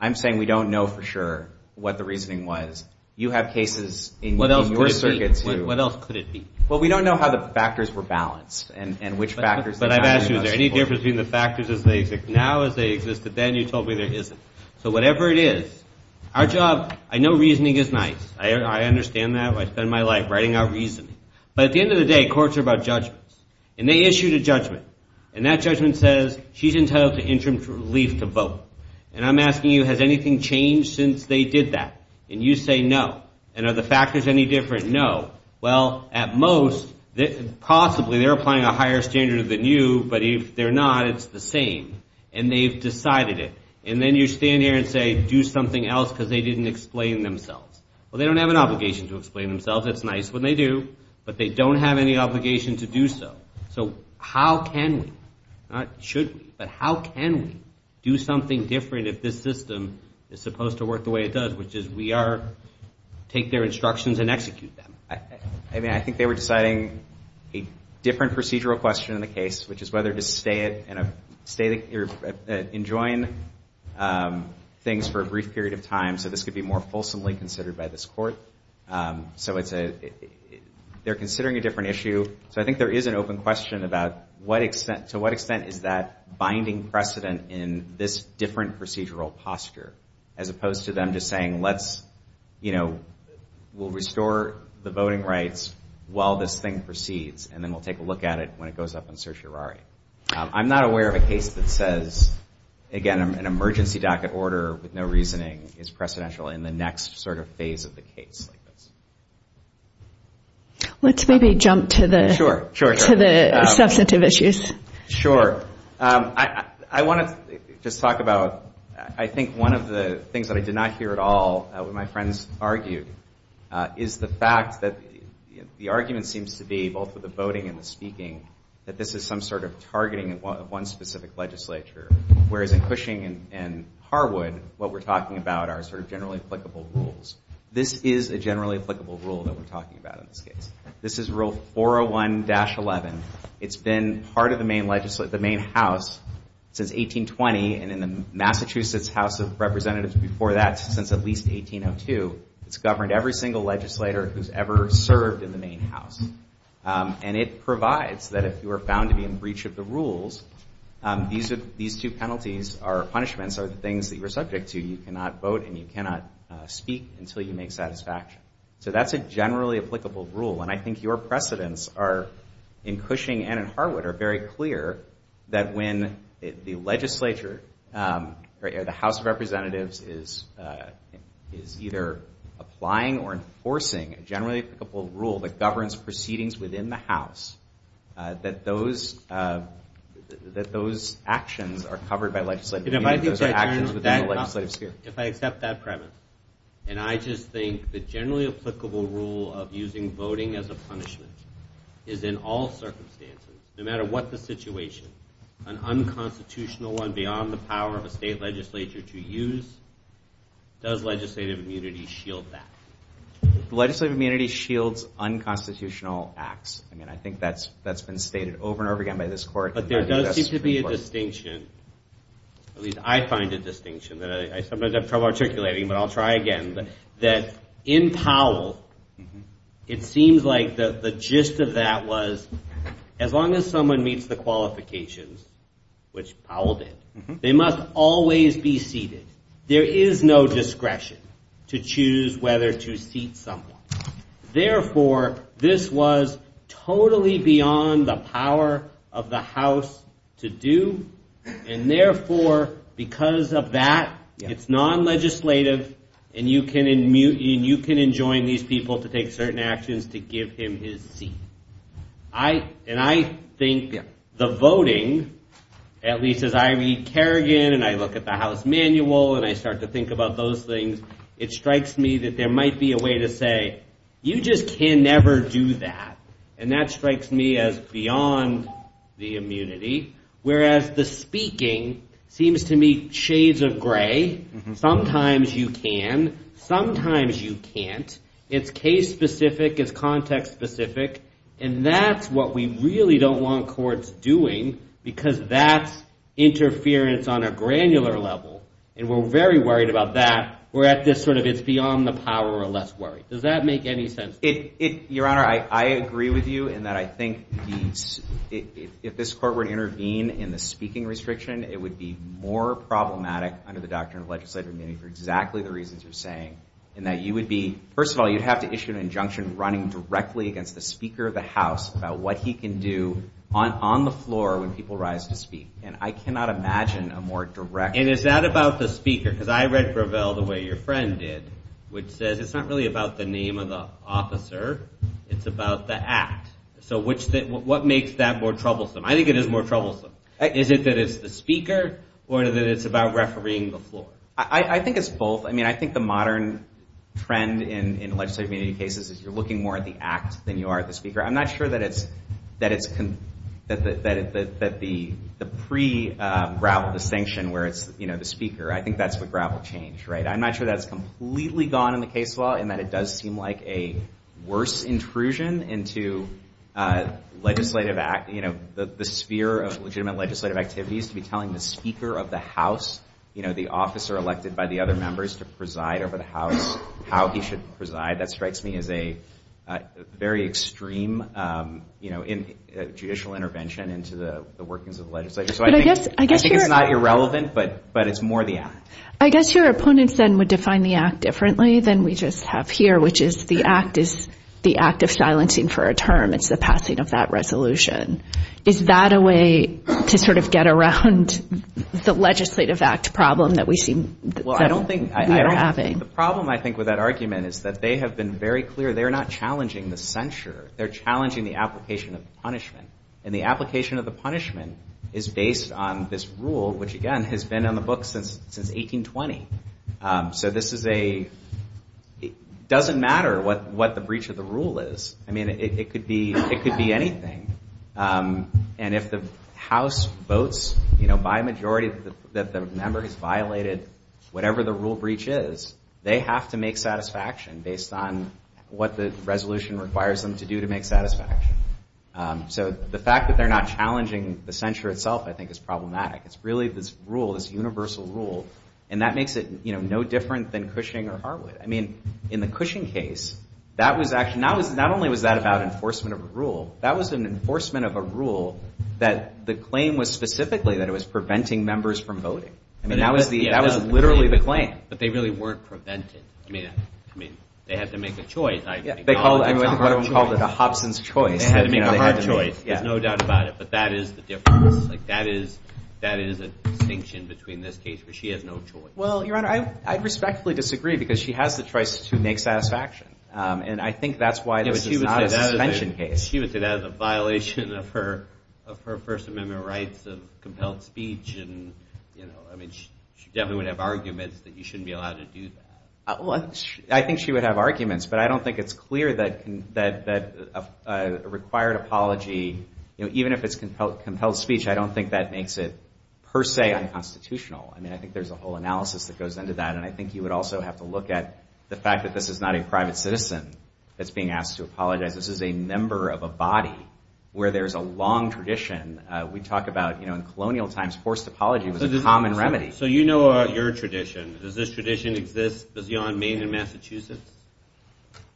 I'm saying we don't know for sure what the reasoning was. You have cases in your circuit, too. What else could it be? Well, we don't know how the factors were balanced and which factors – But I've asked you, is there any difference between the factors as they exist now as they exist, but then you told me there isn't. So whatever it is. Our job – I know reasoning is nice. I understand that. I spend my life writing out reasoning. But at the end of the day, courts are about judgments. And they issued a judgment. And that judgment says, she's entitled to interim relief to vote. And I'm asking you, has anything changed since they did that? And you say no. And are the factors any different? No. Well, at most, possibly they're applying a higher standard than you, but if they're not, it's the same. And they've decided it. And then you stand there and say, do something else because they didn't explain themselves. Well, they don't have an obligation to explain themselves. That's nice when they do. But they don't have any obligation to do so. So how can we – not should we – but how can we do something different if this system is supposed to work the way it does, which is we are – take their instructions and execute them? I mean, I think they were deciding a different procedural question in the case, which is whether to stay in a state – or enjoin things for a brief period of time so this could be more fulsomely considered by this court. So it's a – they're considering a different issue. So I think there is an open question about to what extent is that binding precedent in this different procedural posture, as opposed to them just saying, let's – you know, we'll restore the voting rights while this thing proceeds and then we'll take a look at it when it goes up in certiorari. I'm not aware of a case that says, again, an emergency docket order with no reasoning is precedential in the next sort of phase of the case. Let's maybe jump to the – Sure, sure. – to the substantive issues. Sure. I want to just talk about – I think one of the things that I did not hear at all, what my friends argued, is the fact that the argument seems to be, both with the voting and the speaking, that this is some sort of targeting of one specific legislature, whereas in Cushing and Harwood, what we're talking about are sort of generally applicable rules. This is a generally applicable rule that we're talking about in this case. This is rule 401-11. It's been part of the main – the main house since 1820 and in the Massachusetts House of Representatives before that, since at least 1802, it's governed every single legislator who's ever served in the main house. And it provides that if you are found to be in breach of the rules, these two penalties or punishments are the things that you're subject to. You cannot vote and you cannot speak until you make satisfaction. So that's a generally applicable rule. And I think your precedents are, in Cushing and in Harwood, that are very clear that when the legislature or the House of Representatives is either applying or enforcing a generally applicable rule that governs proceedings within the house, that those – that those actions are covered by legislative – If I accept that premise, and I just think the generally applicable rule of using voting as a punishment is in all circumstances, no matter what the situation, an unconstitutional one beyond the power of a state legislature to use, does legislative immunity shield that? Legislative immunity shields unconstitutional acts. I mean, I think that's been stated over and over again by this court. But there does seem to be a distinction. At least I find a distinction. I sometimes have trouble articulating, but I'll try again. That in Powell, it seems like the gist of that was, as long as someone meets the qualifications, which Powell did, they must always be seated. There is no discretion to choose whether to seat someone. Therefore, this was totally beyond the power of the House to do. And therefore, because of that, it's non-legislative, and you can enjoin these people to take certain actions to give him his seat. And I think the voting, at least as I read Kerrigan and I look at the House manual and I start to think about those things, it strikes me that there might be a way to say, you just can never do that. And that strikes me as beyond the immunity. Whereas the speaking seems to me shades of gray. Sometimes you can. Sometimes you can't. It's case-specific. It's context-specific. And that's what we really don't want courts doing, because that's interference on a granular level. And we're very worried about that. We're at this sort of it's beyond the power or less worry. Does that make any sense? Your Honor, I agree with you in that I think if this court were to intervene in the speaking restriction, it would be more problematic under the doctrine of legislative immunity for exactly the reasons you're saying, in that you would be – first of all, you'd have to issue an injunction running directly against the Speaker of the House about what he can do on the floor when people rise to speak. And I cannot imagine a more direct – And is that about the Speaker? Because I read Gravel the way your friend did, which said it's not really about the name of the officer. It's about the act. So what makes that more troublesome? I think it is more troublesome. Is it that it's the Speaker or that it's about refereeing the floor? I think it's both. I mean, I think the modern trend in legislative cases is you're looking more at the act than you are at the Speaker. I'm not sure that the pre-Gravel distinction where it's the Speaker, I think that's what Gravel changed, right? I'm not sure that's completely gone in the case law and that it does seem like a worse intrusion into legislative – the sphere of legitimate legislative activities to be telling the Speaker of the House, the officer elected by the other members, to preside over the House, how he should preside. That strikes me as a very extreme judicial intervention into the workings of the legislature. So I think it's not irrelevant, but it's more the act. I guess your opponents then would define the act differently than we just have here, which is the act is the act of silencing for a term. It's the passing of that resolution. Is that a way to sort of get around the legislative act problem that we seem to be having? The problem, I think, with that argument is that they have been very clear they're not challenging the censure. They're challenging the application of the punishment. And the application of the punishment is based on this rule, which, again, has been on the books since 1820. So this is a – it doesn't matter what the breach of the rule is. I mean, it could be anything. And if the House votes by majority that the member has violated whatever the rule breach is, they have to make satisfaction based on what the resolution requires them to do to make satisfaction. So the fact that they're not challenging the censure itself I think is problematic. It's really this rule, this universal rule, and that makes it no different than Cushing or Hartwood. I mean, in the Cushing case, that was actually – not only was that about enforcement of a rule, that was an enforcement of a rule that the claim was specifically that it was preventing members from voting. I mean, that was literally the claim. But they really weren't preventing. I mean, they had to make a choice. Yeah, they called it – I mean, I think Hartwood called it a Hobson's choice. They had to make a hard choice. There's no doubt about it. But that is the difference. Like, that is a distinction between this case where she has no choice. Well, Your Honor, I respectfully disagree because she has the choice to make satisfaction. And I think that's why this is not a suspension case. She was said as a violation of her First Amendment rights of compelled speech. And, you know, I mean, she definitely would have arguments that you shouldn't be allowed to do that. I think she would have arguments, but I don't think it's clear that a required apology, even if it's compelled speech, I don't think that makes it per se unconstitutional. I mean, I think there's a whole analysis that goes into that. And I think you would also have to look at the fact that this is not a private citizen that's being asked to apologize. This is a member of a body where there's a long tradition. We talk about, you know, in colonial times, forced apology was a common remedy. So you know about your tradition. Does this tradition exist beyond Maine and Massachusetts?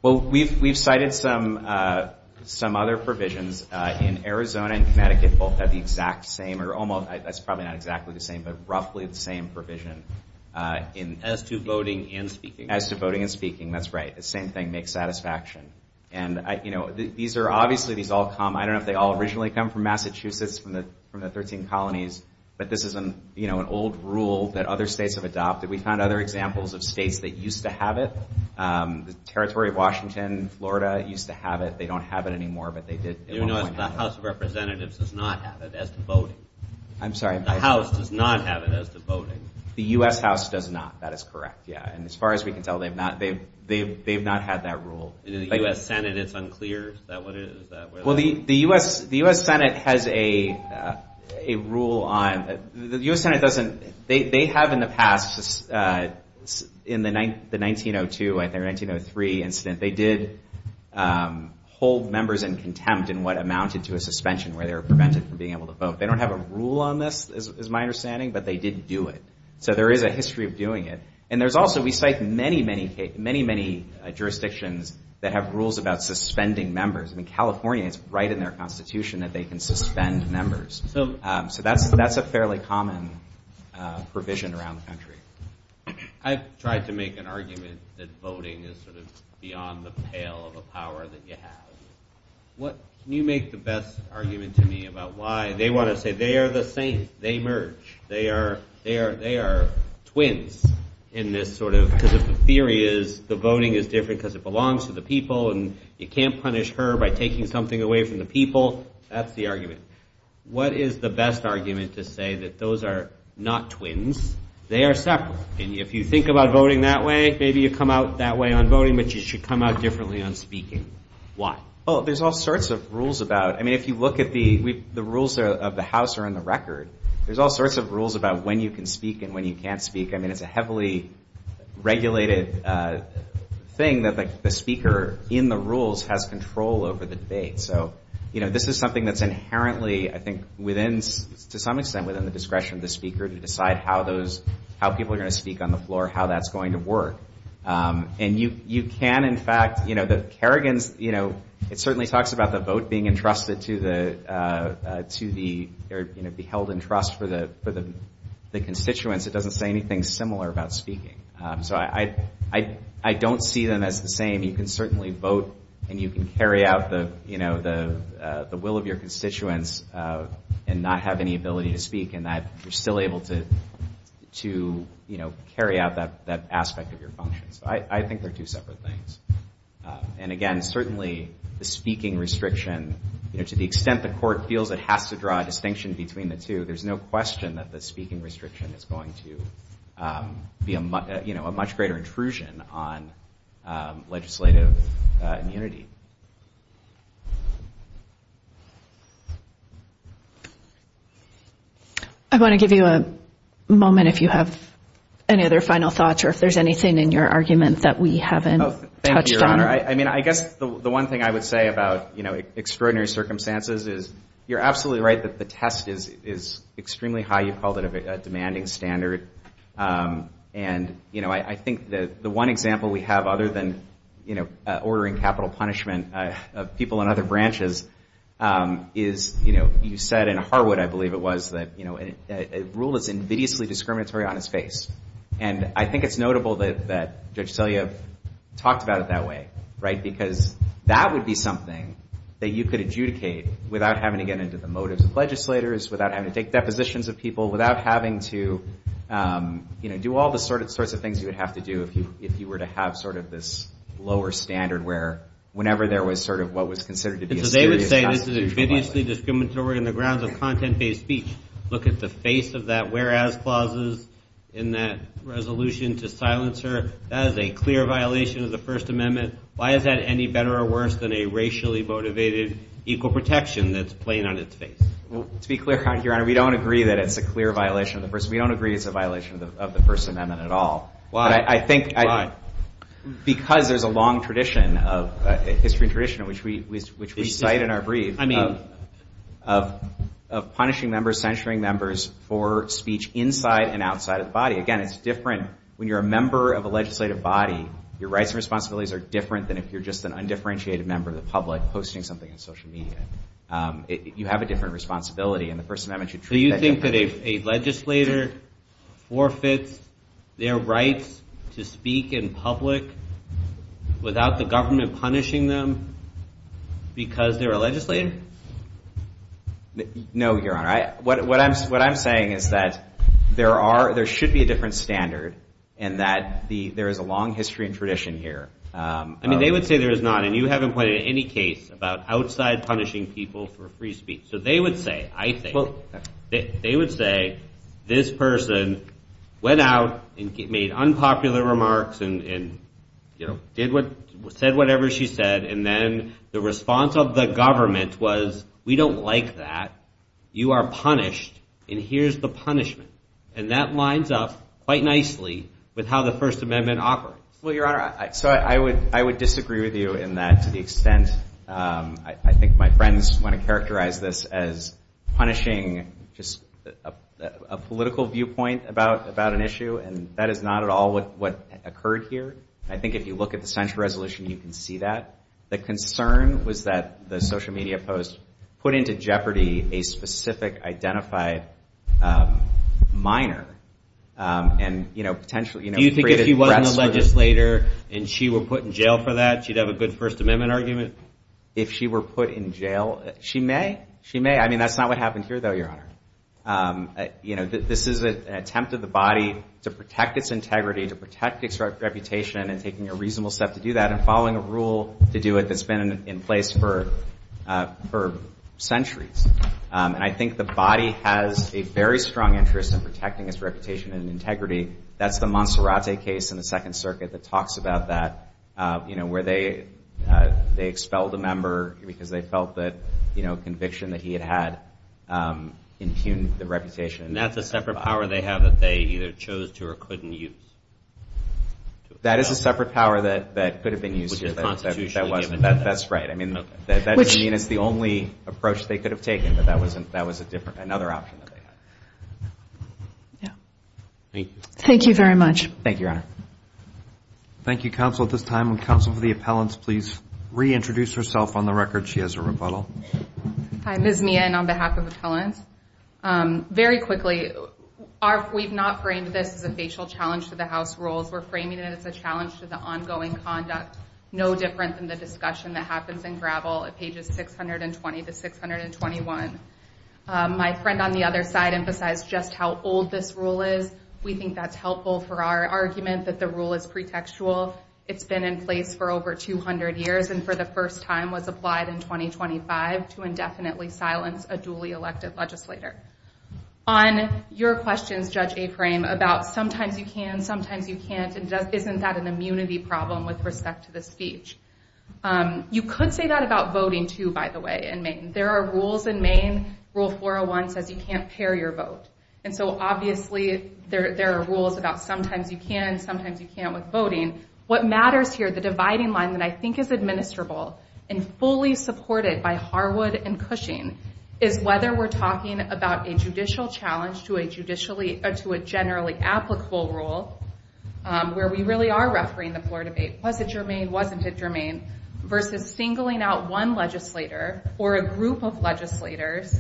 Well, we've cited some other provisions. In Arizona and Connecticut, both have the exact same, or almost, that's probably not exactly the same, but roughly the same provision. As to voting and speaking. As to voting and speaking, that's right. The same thing, make satisfaction. And, you know, these are obviously, these all come, I don't know if they all originally come from Massachusetts, from the 13 colonies, but this is, you know, an old rule that other states have adopted. We found other examples of states that used to have it. The Territory of Washington, Florida, used to have it. They don't have it anymore, but they did. The House of Representatives does not have it as the voting. I'm sorry. The House does not have it as the voting. The U.S. House does not. That is correct, yeah. And as far as we can tell, they've not had that rule. In the U.S. Senate, it's unclear. Is that what it is? Well, the U.S. Senate has a rule on, the U.S. Senate doesn't, they have in the past, in the 1902, I think, or 1903 incident, they did hold members in contempt in what amounted to a suspension where they were prevented from being able to vote. They don't have a rule on this, is my understanding, but they did do it. So there is a history of doing it. And there's also, we cite many, many jurisdictions that have rules about suspending members. In California, it's right in their constitution that they can suspend members. So that's a fairly common provision around the country. I tried to make an argument that voting is sort of beyond the pale of the power that you have. You make the best argument to me about why they want to say they are the same, they merge. They are twins in this sort of, because the theory is the voting is different because it belongs to the people and you can't punish her by taking something away from the people. That's the argument. What is the best argument to say that those are not twins? They are separate. And if you think about voting that way, maybe you come out that way on voting, but you should come out differently on speaking. Why? Well, there's all sorts of rules about, I mean, if you look at the rules of the house or in the record, there's all sorts of rules about when you can speak and when you can't speak. I mean, it's a heavily regulated thing that the speaker in the rules has control over the debate. So, you know, this is something that's inherently, I think, within, to some extent, within the discretion of the speaker to decide how those, how people are going to speak on the floor, how that's going to work. And you can, in fact, you know, the Kerrigan's, you know, it certainly talks about the vote being entrusted to the, you know, be held in trust for the constituents. It doesn't say anything similar about speaking. So, I don't see them as the same. I mean, you can certainly vote and you can carry out the, you know, the will of your constituents and not have any ability to speak in that you're still able to, you know, carry out that aspect of your function. So, I think they're two separate things. And again, certainly, the speaking restriction, you know, to the extent the court feels it has to draw a distinction between the two, there's no question that the speaking restriction is going to be, you know, a much greater intrusion on legislative immunity. I want to give you a moment if you have any other final thoughts or if there's anything in your argument that we haven't touched on. I mean, I guess the one thing I would say about, you know, extraordinary circumstances is that you're absolutely right that the test is extremely high. You called it a demanding standard. And, you know, I think that the one example we have other than, you know, ordering capital punishment of people in other branches is, you know, you said in Harwood, I believe it was, that, you know, a rule is invidiously discriminatory on its face. And I think it's notable that Judge Selyev talked about it that way, right? Because that would be something that you could adjudicate without having to get into the motives of legislators, without having to take depositions of people, without having to, you know, do all the sorts of things you would have to do if you were to have sort of this lower standard where whenever there was sort of what was considered to be a serious... And so they would say this is invidiously discriminatory on the grounds of content-based speech. Look at the face of that whereas clauses in that resolution to silencer. That is a clear violation of the First Amendment. Why is that any better or worse than a racially-motivated equal protection that's plain on its face? To be clear, Your Honor, we don't agree that it's a clear violation of the First Amendment. We don't agree it's a violation of the First Amendment at all. Because there's a long history and tradition which we cite in our briefs of punishing members, censuring members for speech inside and outside the body. Again, it's different when you're a member of a legislative body. Your rights and responsibilities are different than if you're just an undifferentiated member of the public posting something on social media. You have a different responsibility and the First Amendment should treat that differently. So you think that a legislator forfeits their rights to speak in public without the government punishing them because they're a legislator? No, Your Honor. What I'm saying is that there should be a different standard and that there is a long history and tradition here. I mean, they would say there's not. And you haven't pointed to any case about outside punishing people for free speech. So they would say, I think, they would say this person went out and made unpopular remarks and said whatever she said and then the response of the government was, we don't like that, you are punished and here's the punishment. And that lines up quite nicely with how the First Amendment operates. Well, Your Honor, I would disagree with you in that to the extent, I think my friends want to characterize this as punishing a political viewpoint about an issue and that is not at all what occurred here. I think if you look at the central resolution, you can see that. The concern was that the social media posts put into jeopardy a specific identified minor. Do you think if she wasn't a legislator and she were put in jail for that, she'd have a good First Amendment argument? If she were put in jail, she may, she may. I mean, that's not what happened here though, Your Honor. You know, this is an attempt of the body to protect its integrity, to protect its reputation and taking a reasonable step to do that and following a rule to do it that's been in place for centuries. And I think the body has a very strong interest in protecting its reputation and integrity. That's the Montserrat case in the Second Circuit that talks about that, you know, where they expelled a member because they felt that, you know, conviction that he had had impugned the reputation. And that's a separate power they have that they either chose to or couldn't use. That is a separate power that could have been used. That's right. I mean, that doesn't mean it's the only approach they could have taken, but that was a different, another option that they had. Thank you very much. Thank you, Your Honor. Thank you, counsel. At this time, will counsel for the appellants please reintroduce herself. On the record, she has a rebuttal. Hi, Ms. Meehan on behalf of the appellants. Very quickly, we've not framed this as a facial challenge to the House rules. We're framing it as a challenge to the ongoing conduct. No difference in the discussion that happens in DRAVL at pages 620 to 621. My friend on the other side emphasized just how old this rule is. We think that's helpful for our argument that the rule is pretextual. It's been in place for over 200 years and for the first time was applied in 2025 to indefinitely silence a duly elected legislator. On your questions, Judge Aframe, about sometimes you can, sometimes you can't, and just isn't that an immunity problem with respect to the speech? You could say that about voting too, by the way, in Maine. There are rules in Maine, Rule 401 says you can't tear your vote. Obviously, there are rules about sometimes you can, sometimes you can't with voting. What matters here, the dividing line that I think is administrable and fully supported by Harwood and Cushing, is whether we're talking about a judicial challenge to a generally applicable rule where we really are refereeing the floor debate, was it germane, wasn't it germane, versus singling out one legislator or a group of legislators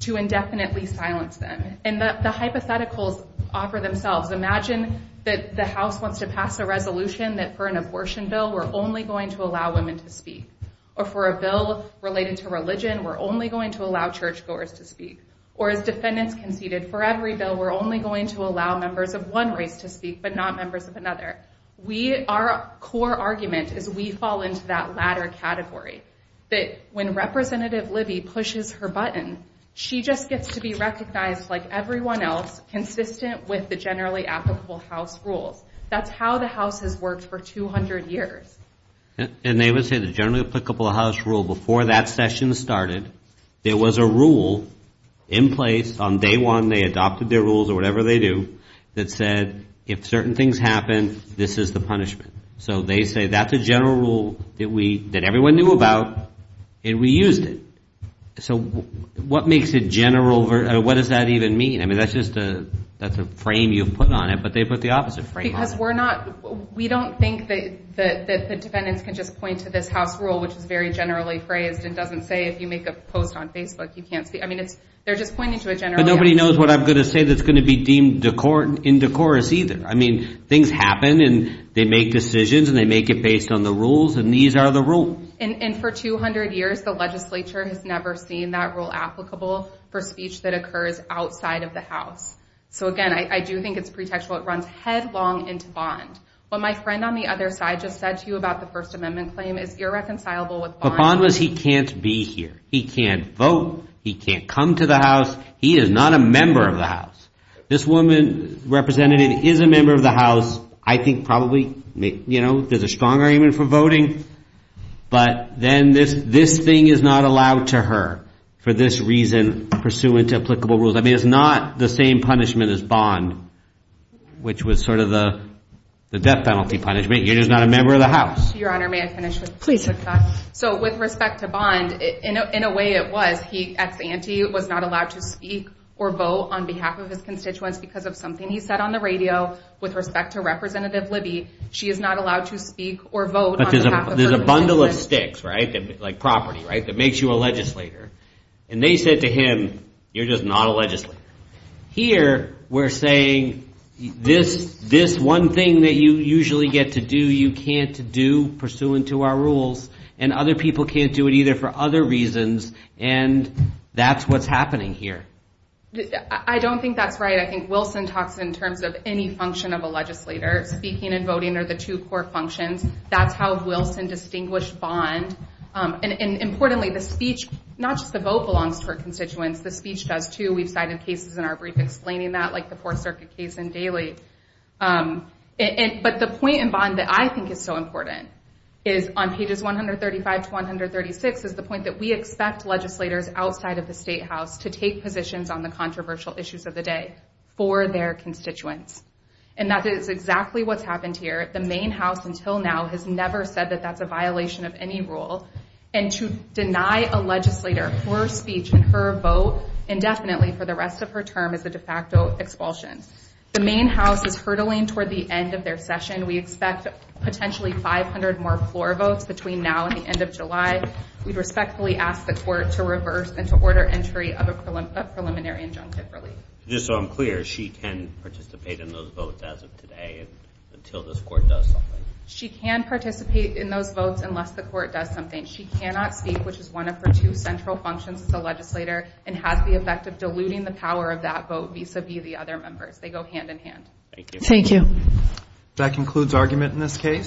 to indefinitely silence them. And the hypotheticals offer themselves. Imagine that the House wants to pass a resolution that for an abortion bill we're only going to allow women to speak, or for a bill relating to religion we're only going to allow churchgoers to speak, or as defendants conceded, for every bill we're only going to allow members of one race to speak but not members of another. Our core argument is we fall into that latter category, that when Representative Libby pushes her button, she just gets to be recognized like everyone else, consistent with the generally applicable House rule. That's how the House has worked for 200 years. And they would say the generally applicable House rule, before that session started, there was a rule in place on day one, they adopted their rules or whatever they do, that said if certain things happen, this is the punishment. So they say that's a general rule that everyone knew about and we used it. So what makes it general, what does that even mean? I mean that's just a frame you've put on it, but they put the opposite frame on it. Because we're not, we don't think that the defendants can just point to this House rule which is very generally phrased and doesn't say if you make a quote on Facebook you can't see, I mean they're just pointing to a general rule. But nobody knows what I'm going to say that's going to be deemed in decorous either. I mean things happen and they make decisions and they make it based on the rules, and these are the rules. And for 200 years the legislature has never seen that rule applicable for speech that occurs outside of the House. So again, I do think it's pretextual. It runs headlong into bond. What my friend on the other side just said to you about the First Amendment claim is irreconcilable with bond. The problem is he can't be here. He can't vote. He can't come to the House. He is not a member of the House. This woman, Representative, is a member of the House, I think probably, you know, is a strong argument for voting. But then this thing is not allowed to her for this reason pursuant to applicable rules. I mean it's not the same punishment as bond, which was sort of the death penalty punishment. You're just not a member of the House. Your Honor, may I finish with this? Please. So with respect to bond, in a way it was. He, ex-ante, was not allowed to speak or vote on behalf of his constituents because of something he said on the radio with respect to Representative Libby. She is not allowed to speak or vote on behalf of her constituents. There's a bundle of sticks, right, like property, right, that makes you a legislator. And they said to him, you're just not a legislator. Here we're saying this one thing that you usually get to do, you can't do pursuant to our rules, and other people can't do it either for other reasons, and that's what's happening here. I don't think that's right. I think Wilson talks in terms of any function of a legislator. Speaking and voting are the two core functions. That's how Wilson distinguished bond. And importantly, the speech, not just the vote belongs to her constituents, the speech does too. We've cited cases in our brief explaining that, like the Fourth Circuit case in Daly. But the point in bond that I think is so important is on pages 135 to 136 is the point that we expect legislators outside of the State House to take positions on the controversial issues of the day for their constituents. And that is exactly what's happened here. The Maine House, until now, has never said that that's a violation of any rule. And to deny a legislator her speech and her vote indefinitely for the rest of her term is a de facto expulsion. The Maine House is hurtling toward the end of their session. We expect potentially 500 more floor votes between now and the end of July. We respectfully ask the court to reverse and to order entry of a preliminary injunction. Just so I'm clear, she can participate in those votes as of today until this court does something? She can participate in those votes unless the court does something. She cannot speak, which is one of her two central functions as a legislator, and has the effect of diluting the power of that vote vis-a-vis the other members. They go hand in hand. Thank you. That concludes argument in this case.